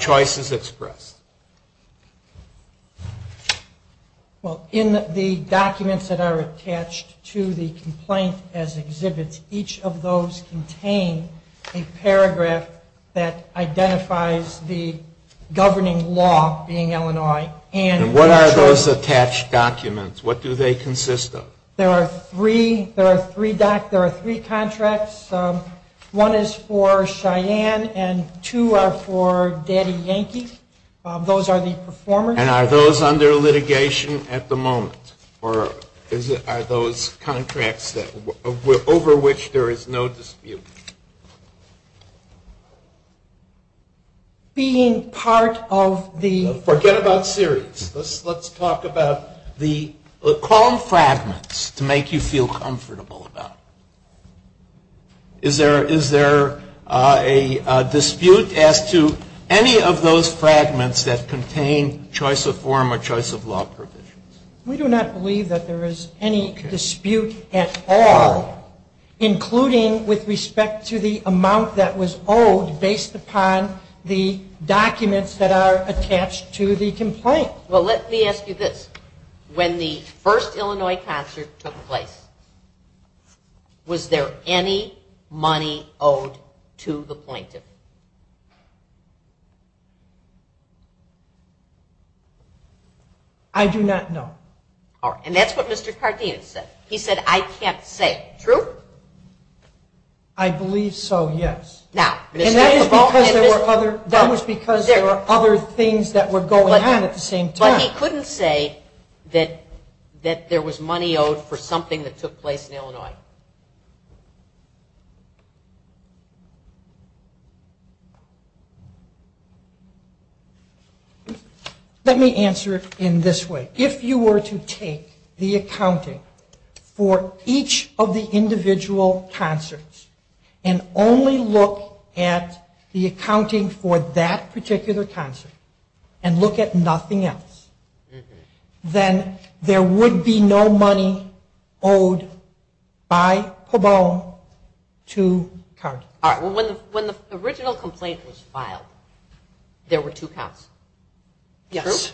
choice is expressed? Well, in the documents that are attached to the complaint as exhibits, each of those contain a paragraph that identifies the governing law being Illinois. And what are those attached documents? What do they consist of? There are three contracts. One is for Cheyenne and two are for Daddy Yankee. Those are the performers. And are those under litigation at the moment? Or are those contracts over which there is no dispute? Being part of the... Forget about series. Let's talk about the qualm fragments to make you feel comfortable about. Is there a dispute as to any of those fragments that contain choice of forum or choice of law? We do not believe that there is any dispute at all, including with respect to the amount that was owed based upon the documents that are attached to the complaint. Well, let me ask you this. When the first Illinois concert took place, was there any money owed to the plaintiff? I do not know. All right. And that's what Mr. Cartesian said. He said, I can't say. True? I believe so, yes. And that was because there were other things that were going on at the same time. But he couldn't say that there was money owed for something that took place in Illinois. Let me answer it in this way. If you were to take the accounting for each of the individual concerts and only look at the accounting for that particular concert and look at nothing else, then there would be no money owed by Cabone to Congress. All right. Well, when the original complaint was filed, there were two concerts. Yes.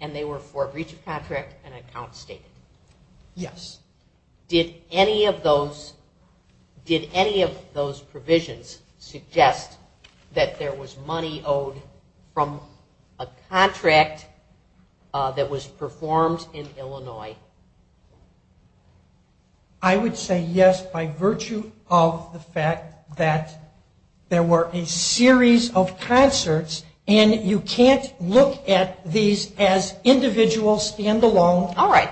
And they were for a breach of contract and an account statement. Yes. Did any of those provisions suggest that there was money owed from a contract that was performed in Illinois? I would say yes by virtue of the fact that there were a series of concerts and you can't look at these as individual, stand-alone events. All right.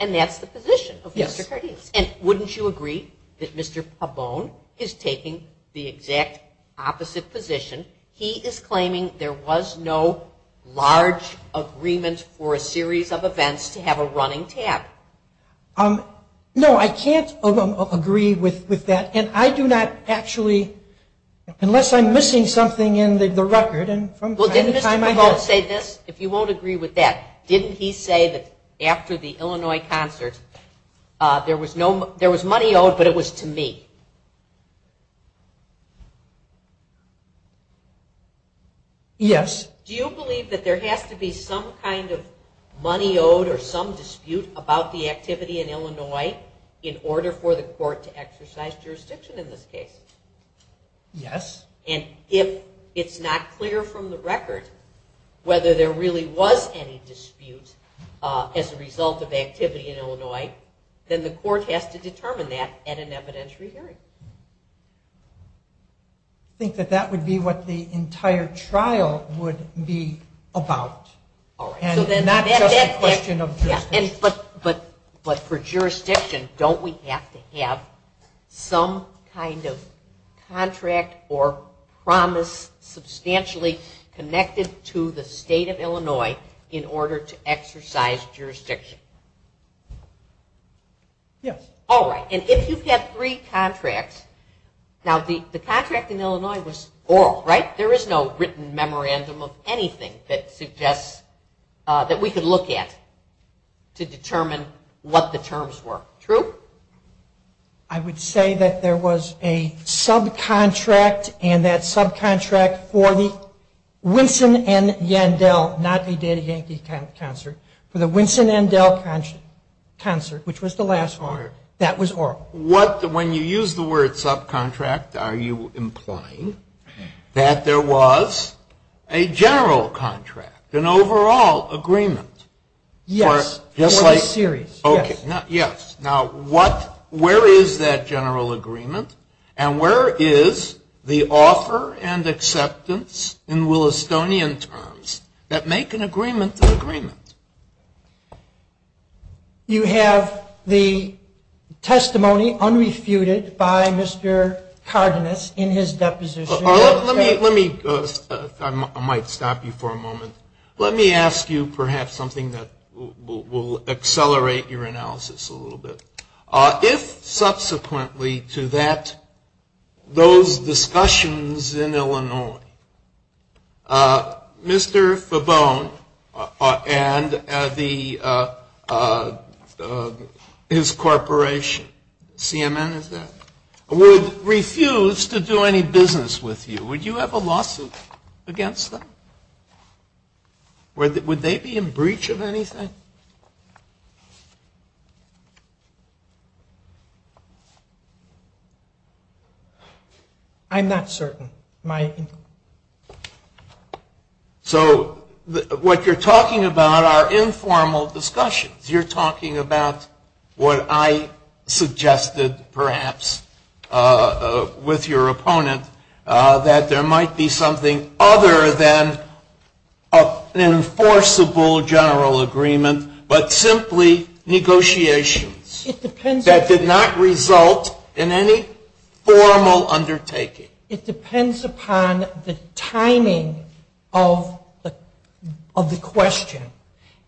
And that's the position of Mr. Cartesian. And wouldn't you agree that Mr. Cabone is taking the exact opposite position? He is claiming there was no large agreement for a series of events to have a running tab. No, I can't agree with that. And I do not actually, unless I'm missing something in the record. Well, didn't he say this? If you won't agree with that, didn't he say that after the Illinois concert, there was money owed but it was to me? Yes. Do you believe that there has to be some kind of money owed or some dispute about the activity in Illinois in order for the court to exercise jurisdiction in this case? Yes. And if it's not clear from the record whether there really was any dispute as a result of activity in Illinois, then the court has to determine that at an evidentiary hearing. I think that that would be what the entire trial would be about. All right. But for jurisdiction, don't we have to have some kind of contract or promise substantially connected to the state of Illinois in order to exercise jurisdiction? Yes. All right. And if you have three contracts, now the contract in Illinois was oral, right? There is no written memorandum of anything that suggests that we could look at to determine what the terms were. True? I would say that there was a subcontract and that subcontract for the Winson and Yandel, not the Diddy Yankee concert, for the Winson and Yandel concert, which was the last one, that was oral. So when you use the word subcontract, are you implying that there was a general contract, an overall agreement? Yes. Yes. Okay. Yes. Now where is that general agreement and where is the offer and acceptance in Willistonian terms that make an agreement an agreement? You have the testimony unrefuted by Mr. Cardenas in his deposition. Let me, I might stop you for a moment. Let me ask you perhaps something that will accelerate your analysis a little bit. If subsequently to that, those discussions in Illinois, Mr. Fabone and his corporation, CMM is that, would refuse to do any business with you, would you have a lawsuit against them? Would they be in breach of anything? I'm not certain. So what you're talking about are informal discussions. You're talking about what I suggested perhaps with your opponent, that there might be something other than an enforceable general agreement, but simply negotiations. That did not result in any formal undertaking. It depends upon the timing of the question.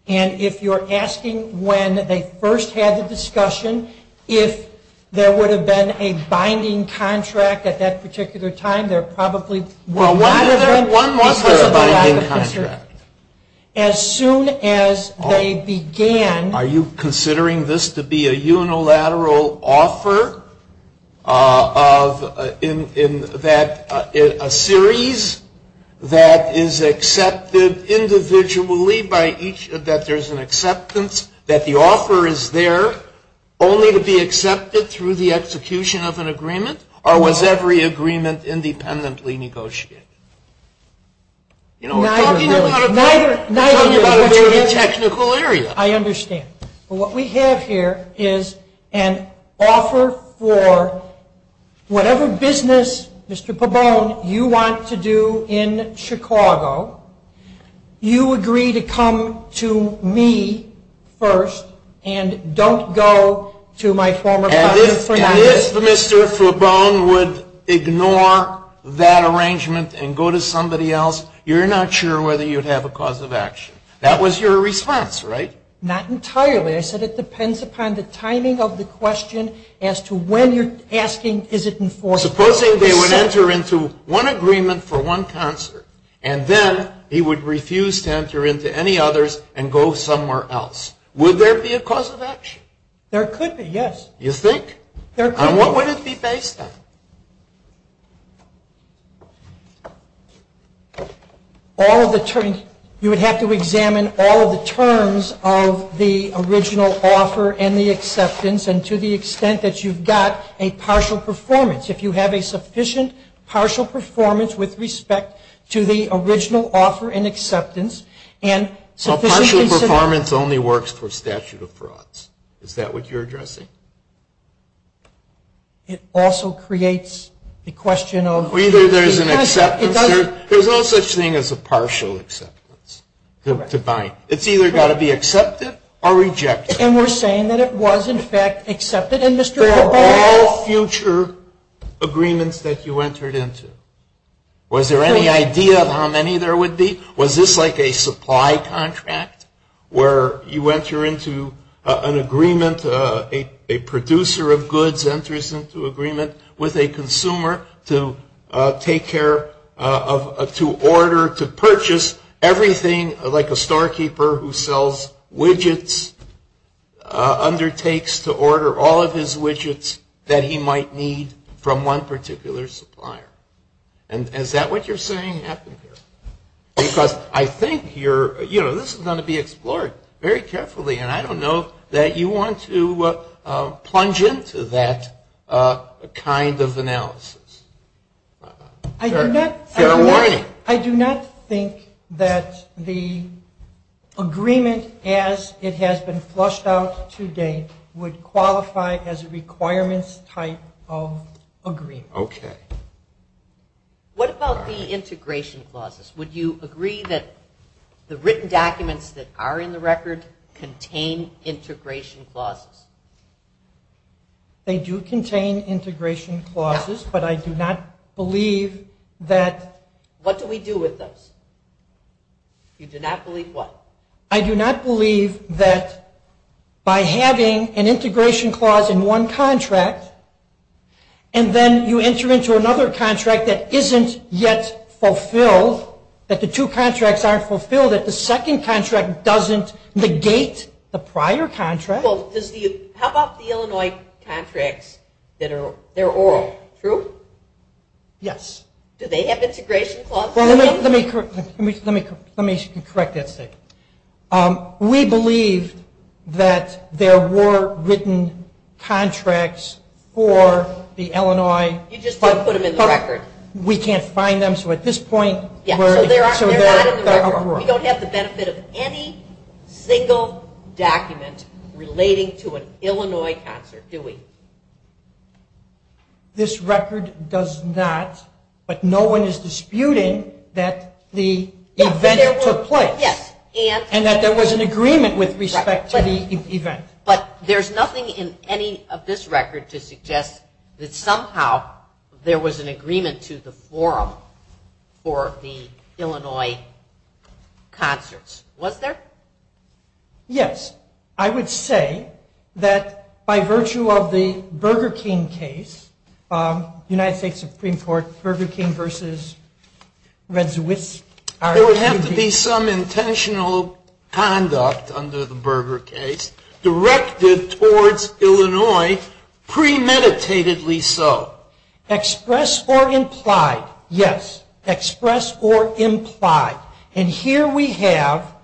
And if you're asking when they first had the discussion, if there would have been a binding contract at that particular time, there probably would have been. Well, why would there be a binding contract? As soon as they began. Are you considering this to be a unilateral offer of, in that a series that is accepted individually by each, that there's an acceptance, that the offer is there only to be accepted through the execution of an agreement, or was every agreement independently negotiated? You know, I'm talking about a very technical area. I understand. But what we have here is an offer for whatever business, Mr. Fabone, you want to do in Chicago, you agree to come to me first and don't go to my former partner. If Mr. Fabone would ignore that arrangement and go to somebody else, you're not sure whether you'd have a cause of action. That was your response, right? Not entirely. I said it depends upon the timing of the question as to when you're asking is it enforceable. Supposing they would enter into one agreement for one concert, and then he would refuse to enter into any others and go somewhere else. Would there be a cause of action? There could be, yes. You think? There could be. What would it be based on? All of the terms. You would have to examine all of the terms of the original offer and the acceptance and to the extent that you've got a partial performance. If you have a sufficient partial performance with respect to the original offer and acceptance. A partial performance only works for statute of frauds. Is that what you're addressing? It also creates the question of. Either there's an acceptance. There's no such thing as a partial acceptance to buy. It's either got to be accepted or rejected. And we're saying that it was in fact accepted. There are all future agreements that you entered into. Was there any idea of how many there would be? Was this like a supply contract where you enter into an agreement, a producer of goods enters into agreement with a consumer to take care of, to order, to purchase everything like a storekeeper who sells widgets undertakes to order all of his widgets that he might need from one particular supplier? And is that what you're saying happened here? Because I think you're, you know, this is going to be explored very carefully and I don't know that you want to plunge into that kind of analysis. Get away. I do not think that the agreement as it has been flushed out today would qualify as a requirements type of agreement. Okay. What about the integration clauses? Would you agree that the written documents that are in the record contain integration clauses? They do contain integration clauses, but I do not believe that. What do we do with them? You do not believe what? I do not believe that by having an integration clause in one contract and then you enter into another contract that isn't yet fulfilled, that the two contracts aren't fulfilled, that the second contract doesn't negate the prior contract. How about the Illinois contracts that are oral, true? Yes. Do they have integration clauses? Let me correct that. We believe that there were written contracts for the Illinois. You just put them in the record. We can't find them, so at this point we're sort of at a crossroads. We don't have the benefit of any single document relating to an Illinois contract, do we? This record does not, but no one is disputing that the event took place and that there was an agreement with respect to the event. But there's nothing in any of this record to suggest that somehow there was an agreement to the forum for the Illinois concerts, was there? Yes. I would say that by virtue of the Burger King case, United States Supreme Court, Burger King versus Red Swiss. There would have to be some intentional conduct under the Burger King case directed towards Illinois premeditatedly so. Express or imply. Yes. Express or imply. And here we have,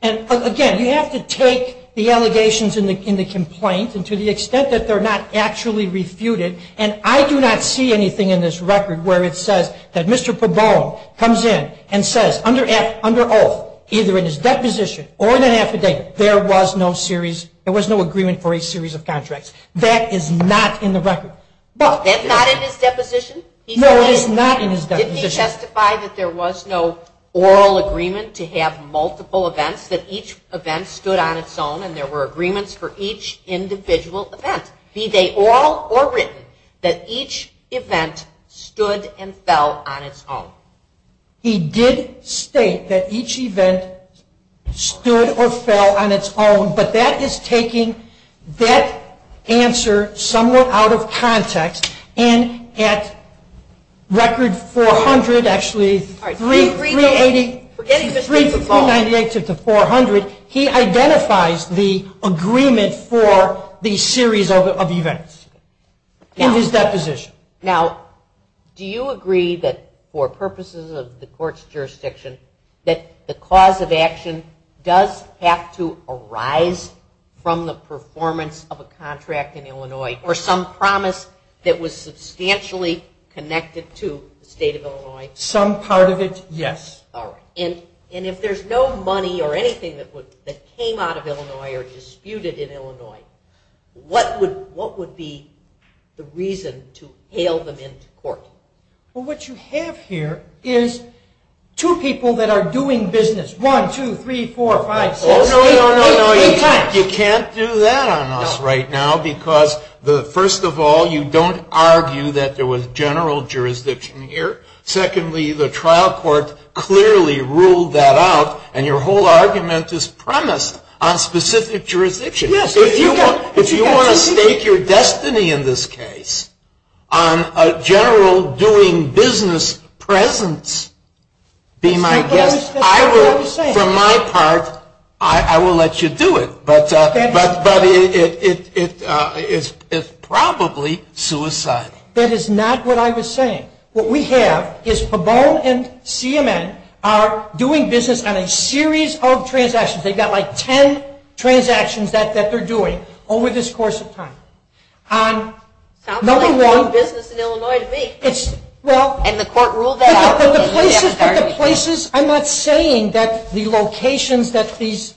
again, you have to take the allegations in the complaint and to the extent that they're not actually refuted, and I do not see anything in this record where it says that Mr. Pabon comes in and says under oath, either in his deposition or in an affidavit, there was no agreement for a series of contracts. That is not in the record. It's not in his deposition? No, it is not in his deposition. Did he testify that there was no oral agreement to have multiple events, that each event stood on its own and there were agreements for each individual event, be they oral or written, that each event stood and fell on its own? He did state that each event stood or fell on its own, but that is taking that answer somewhat out of context and at record 400, actually 3,380 to 400, he identifies the agreement for the series of events in his deposition. Now, do you agree that for purposes of the court's jurisdiction, that the cause of action does have to arise from the performance of a contract in Illinois or some promise that was substantially connected to the state of Illinois? Some part of it, yes. All right. And if there's no money or anything that came out of Illinois or disputed in Illinois, what would be the reason to hail them into court? Well, what you have here is two people that are doing business. One, two, three, four, five, six. No, no, no. You can't do that on us right now because, first of all, you don't argue that there was general jurisdiction here. Secondly, the trial court clearly ruled that out, and your whole argument is premised on specific jurisdiction. If you want to stake your destiny in this case on a general doing business presence, be my guest. For my part, I will let you do it, but it's probably suicide. That is not what I was saying. What we have is PABOL and CMN are doing business on a series of transactions. They've got like ten transactions that they're doing over this course of time. Sounds like no business in Illinois to me. And the court ruled that out. I'm not saying that the locations that these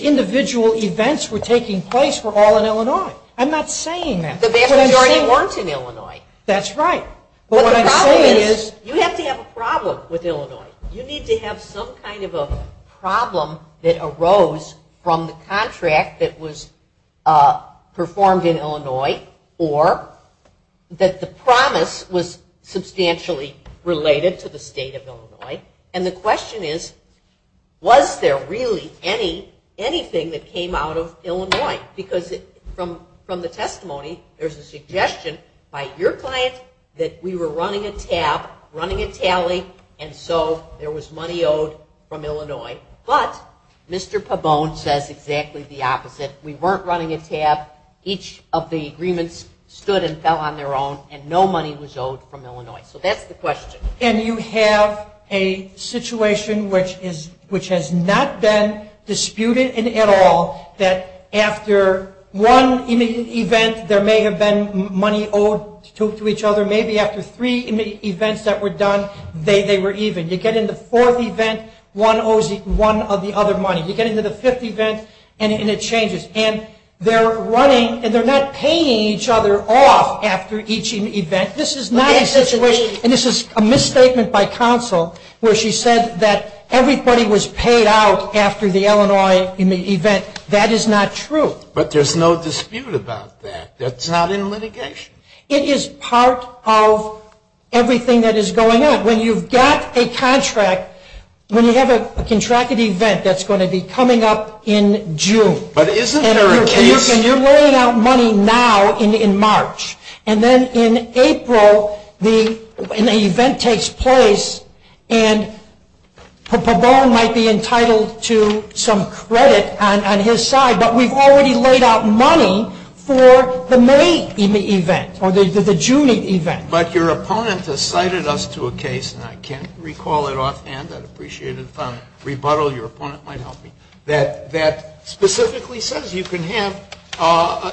individual events were taking place were all in Illinois. I'm not saying that. The vast majority weren't in Illinois. That's right. But what I'm saying is you have to have a problem with Illinois. You need to have some kind of a problem that arose from the contract that was performed in Illinois or that the promise was substantially related to the state of Illinois. And the question is, was there really anything that came out of Illinois? Because from the testimony, there's a suggestion by your client that we were running a tab, running a tally, and so there was money owed from Illinois. But Mr. PABOL says exactly the opposite. We weren't running a tab. Each of the agreements stood and fell on their own, and no money was owed from Illinois. So that's the question. And you have a situation which has not been disputed at all, that after one immediate event, there may have been money owed to each other. Or maybe after three immediate events that were done, they were even. You get into the fourth event, one owes one of the other money. You get into the fifth event, and it changes. And they're not paying each other off after each event. This is not a situation, and this is a misstatement by counsel, where she said that everybody was paid out after the Illinois immediate event. That is not true. But there's no dispute about that. That's not in litigation. It is part of everything that is going on. When you've got a contract, when you have a contracted event that's going to be coming up in June. And you're laying out money now in March. And then in April, an event takes place, and PABOL might be entitled to some credit on his side, but we've already laid out money for the May immediate event, or the June immediate event. But your opponent has cited us to a case, and I can't recall it offhand. I'd appreciate it if I could rebuttal. Your opponent might help me. That specifically says you can have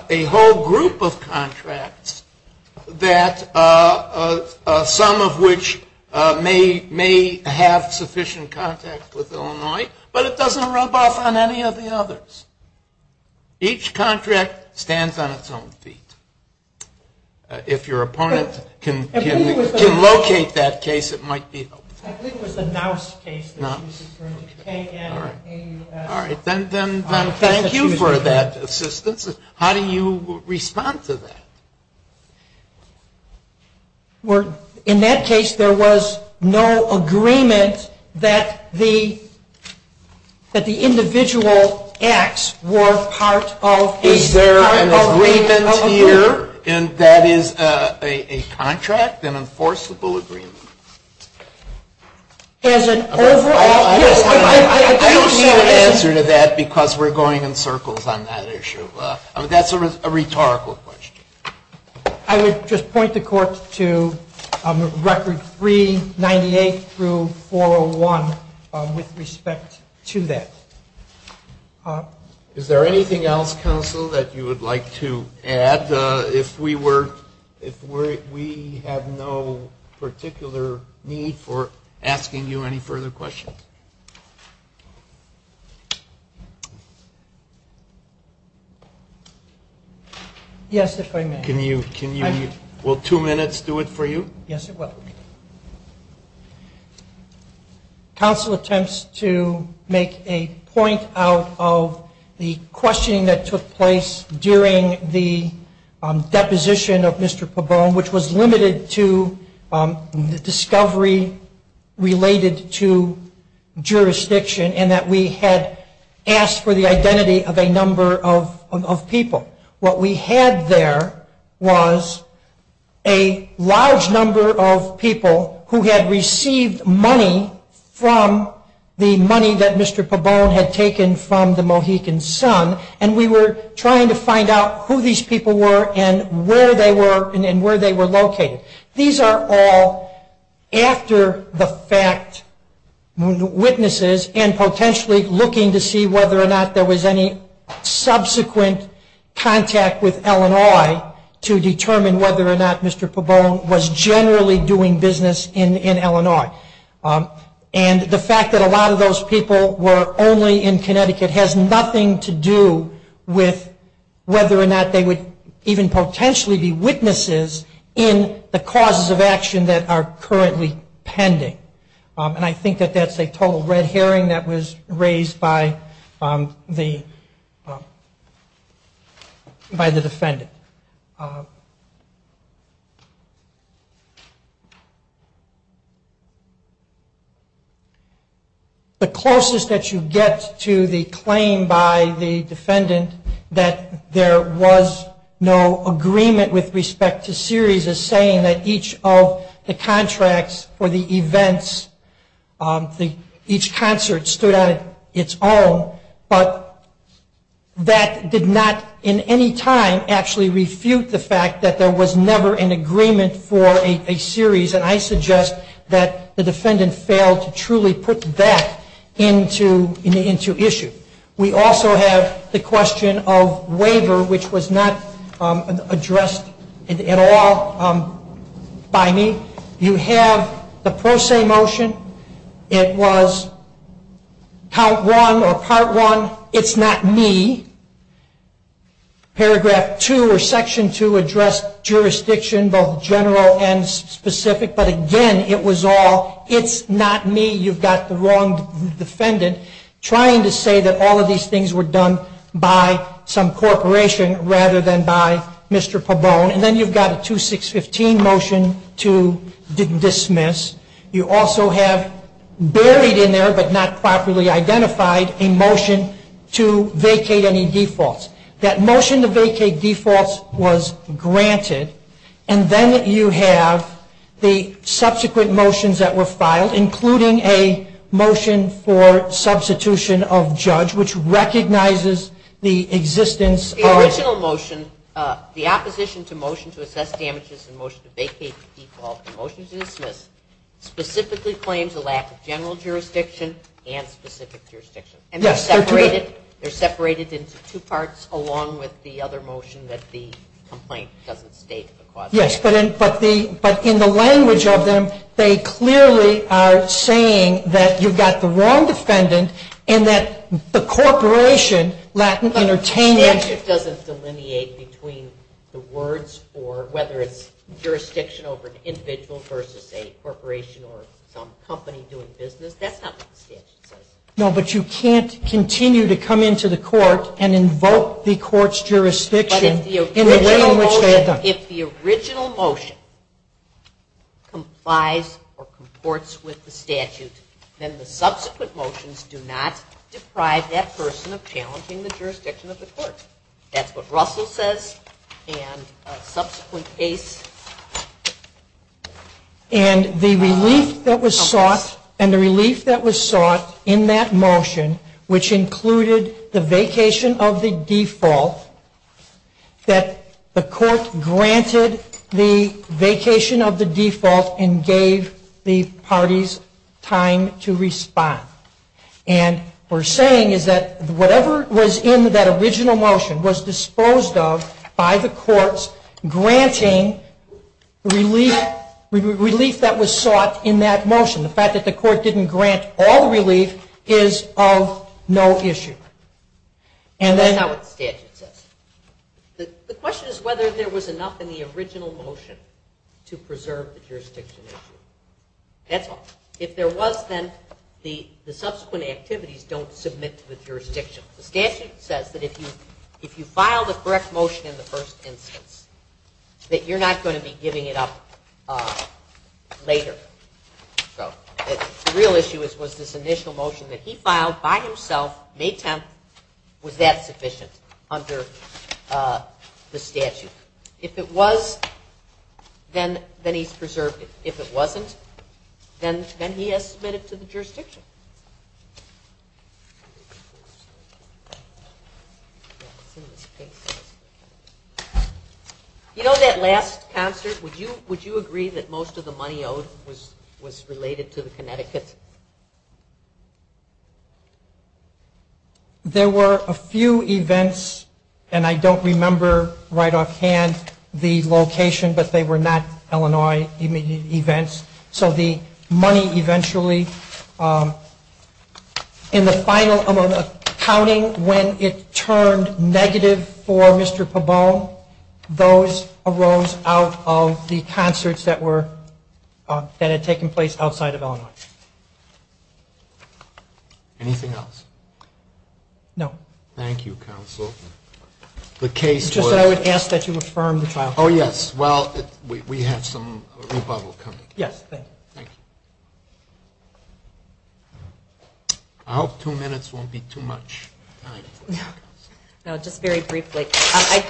a whole group of contracts, some of which may have sufficient contact with Illinois, but it doesn't rub off on any of the others. Each contract stands on its own feet. If your opponent can locate that case, it might be helpful. I think it was a mouse case. Thank you for that assistance. How do you respond to that? In that case, there was no agreement that the individual acts were part of the agreement here. Is there an agreement here, and that is a contract, an enforceable agreement? There's an overall agreement. I don't see an answer to that because we're going in circles on that issue. That's a rhetorical question. I would just point the court to record 398 through 401 with respect to that. Is there anything else, counsel, that you would like to add if we have no particular need for asking you any further questions? Yes, if I may. Will two minutes do it for you? Yes, it will. Counsel attempts to make a point out of the questioning that took place during the deposition of Mr. Pabon, which was limited to the discovery related to jurisdiction and that we had asked for the identity of a number of people. What we had there was a large number of people who had received money from the money that Mr. Pabon had taken from the Mohican Sun, and we were trying to find out who these people were and where they were and where they were located. These are all after-the-fact witnesses and potentially looking to see whether or not there was any subsequent contact with Illinois to determine whether or not Mr. Pabon was generally doing business in Illinois. And the fact that a lot of those people were only in Connecticut has nothing to do with whether or not they would even potentially be witnesses in the causes of action that are currently pending. And I think that that's a total red herring that was raised by the defendant. The closest that you get to the claim by the defendant that there was no agreement with respect to series is saying that each of the contracts or the events, each transfer stood on its own, but that did not in any time actually refute the fact that there was never an agreement for a series, and I suggest that the defendant failed to truly put that into issue. We also have the question of waiver, which was not addressed at all by me. You have the pro se motion. It was Part 1 or Part 1, it's not me. Paragraph 2 or Section 2 addressed jurisdiction both general and specific, but again, it was all it's not me. You've got the wrong defendant trying to say that all of these things were done by some corporation rather than by Mr. Pabon. And then you've got a 2615 motion to dismiss. You also have buried in there, but not properly identified, a motion to vacate any defaults. That motion to vacate defaults was granted, and then you have the subsequent motions that were filed, including a motion for substitution of judge, which recognizes the existence of... The opposition to motion to assess damages and motion to vacate defaults and motion to dismiss specifically claims a lack of general jurisdiction and specific jurisdiction. And they're separated into two parts along with the other motion that the complaint doesn't state the cause. Yes, but in the language of them, they clearly are saying that you've got the wrong defendant and that the corporation lack of entertainment... Statute doesn't delineate between the words or whether it's jurisdiction over an individual versus a corporation or some company doing business. That's not in the statute. No, but you can't continue to come into the court and invoke the court's jurisdiction in the way in which they have done. But if the original motion complies or comports with the statute, then the subsequent motions do not deprive that person of challenging the jurisdiction of the court. That's what Russell says, and a subsequent case... And the relief that was sought in that motion, which included the vacation of the default, that the court granted the vacation of the default and gave the parties time to respond. And what we're saying is that whatever was in that original motion was disposed of by the courts granting relief that was sought in that motion. The fact that the court didn't grant all relief is of no issue. And then what the statute says. The question is whether there was enough in the original motion to preserve the jurisdiction issue. If there was, then the subsequent activities don't submit to the jurisdiction. The statute says that if you file the correct motion in the first instance, that you're not going to be giving it up later. The real issue was this initial motion that he filed by himself, May 10th, with that position under the statute. If it was, then he preserved it. If it wasn't, then he has submitted it to the jurisdiction. You know, that last concert, would you agree that most of the money owed was related to Connecticut? There were a few events, and I don't remember right offhand the location, but they were not Illinois events. So the money eventually, in the final amount of counting, when it turned negative for Mr. Pabot, those arose out of the concerts that had taken place outside of Illinois. Anything else? No. Thank you, counsel. It's just that I would ask that you affirm the file. Oh, yes. Well, we have some rebuttal coming. Yes. I hope two minutes won't be too much. No, just very briefly.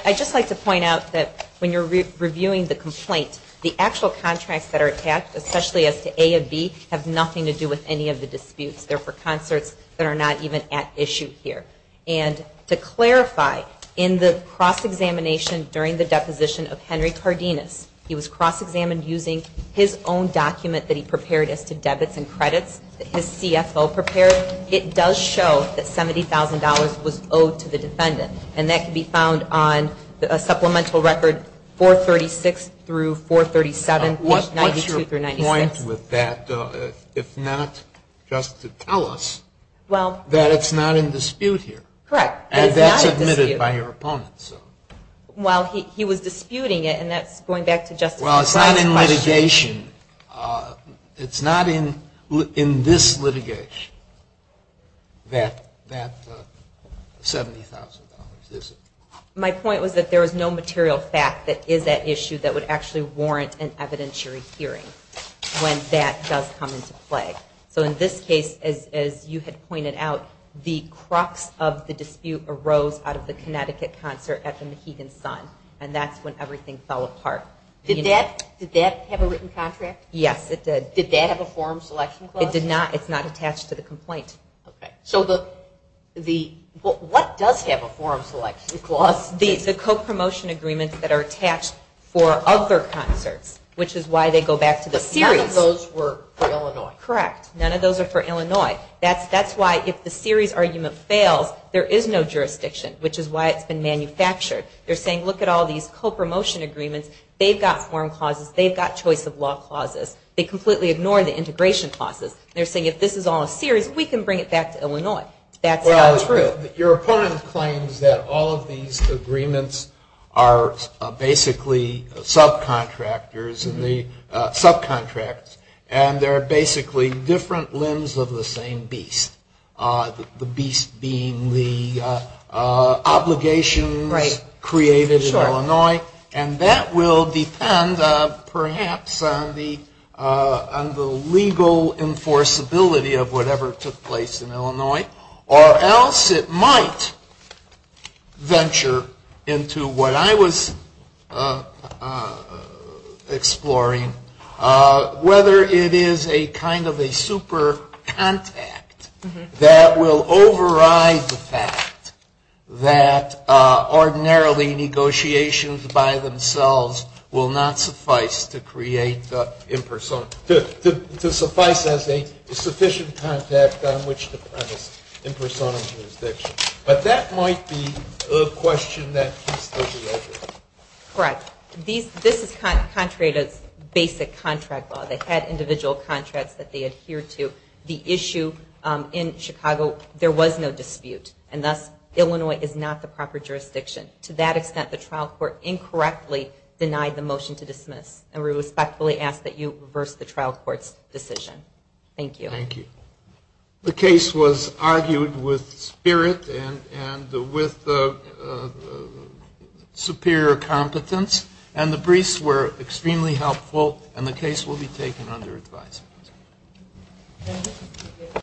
I'd just like to point out that when you're reviewing the complaint, the actual contracts that are attached, especially as to A and B, have nothing to do with any of the disputes. They're for concerts that are not even at issue here. And to clarify, in the cross-examination during the deposition of Henry Cardenas, he was cross-examined using his own document that he prepared as to debits and credits, that his CFO prepared. It does show that $70,000 was owed to the defendant, and that can be found on a supplemental record 436 through 437, 92 through 96. Well, my point was that it's not just to tell us that it's not in dispute here. Correct. And that's admitted by your opponent. Well, he was disputing it, and that's going back to Justice McClellan. Well, it's not in litigation. It's not in this litigation that that $70,000 is. My point was that there is no material fact that is at issue that would actually warrant an evidentiary hearing when that does come into play. So in this case, as you had pointed out, the crux of the dispute arose out of the Connecticut concert at the McKeegan Sun, and that's when everything fell apart. Did that have a written contract? Yes, it did. Did that have a form selection clause? It did not. It's not attached to the complaint. Okay. So what does have a form selection clause? The co-promotion agreements that are attached for other concerts, which is why they go back to the series. None of those were for Illinois. Correct. None of those are for Illinois. That's why if the series argument fails, there is no jurisdiction, which is why it's been manufactured. They're saying, look at all these co-promotion agreements. They've got form clauses. They've got choice of law clauses. They completely ignore the integration clauses. They're saying, if this is all in series, we can bring it back to Illinois. That's not true. Your opponent claims that all of these agreements are basically subcontractors, and they're basically different limbs of the same beast, the beast being the obligations created in Illinois, and that will depend perhaps on the legal enforceability of whatever took place in Illinois, or else it might venture into what I was exploring, whether it is a kind of a super contact that will override the fact that ordinarily negotiations by themselves will not suffice to create a sufficient contact on which to present in person or jurisdiction. But that might be a question that needs to be answered. Correct. This is contrary to basic contract law. They had individual contracts that they adhered to. The issue in Chicago, there was no dispute, and thus Illinois is not the proper jurisdiction. To that extent, the trial court incorrectly denied the motion to dismiss, and we respectfully ask that you reverse the trial court's decision. Thank you. Thank you. The case was argued with spirit and with superior competence, and the briefs were extremely helpful, and the case will be taken under advisement.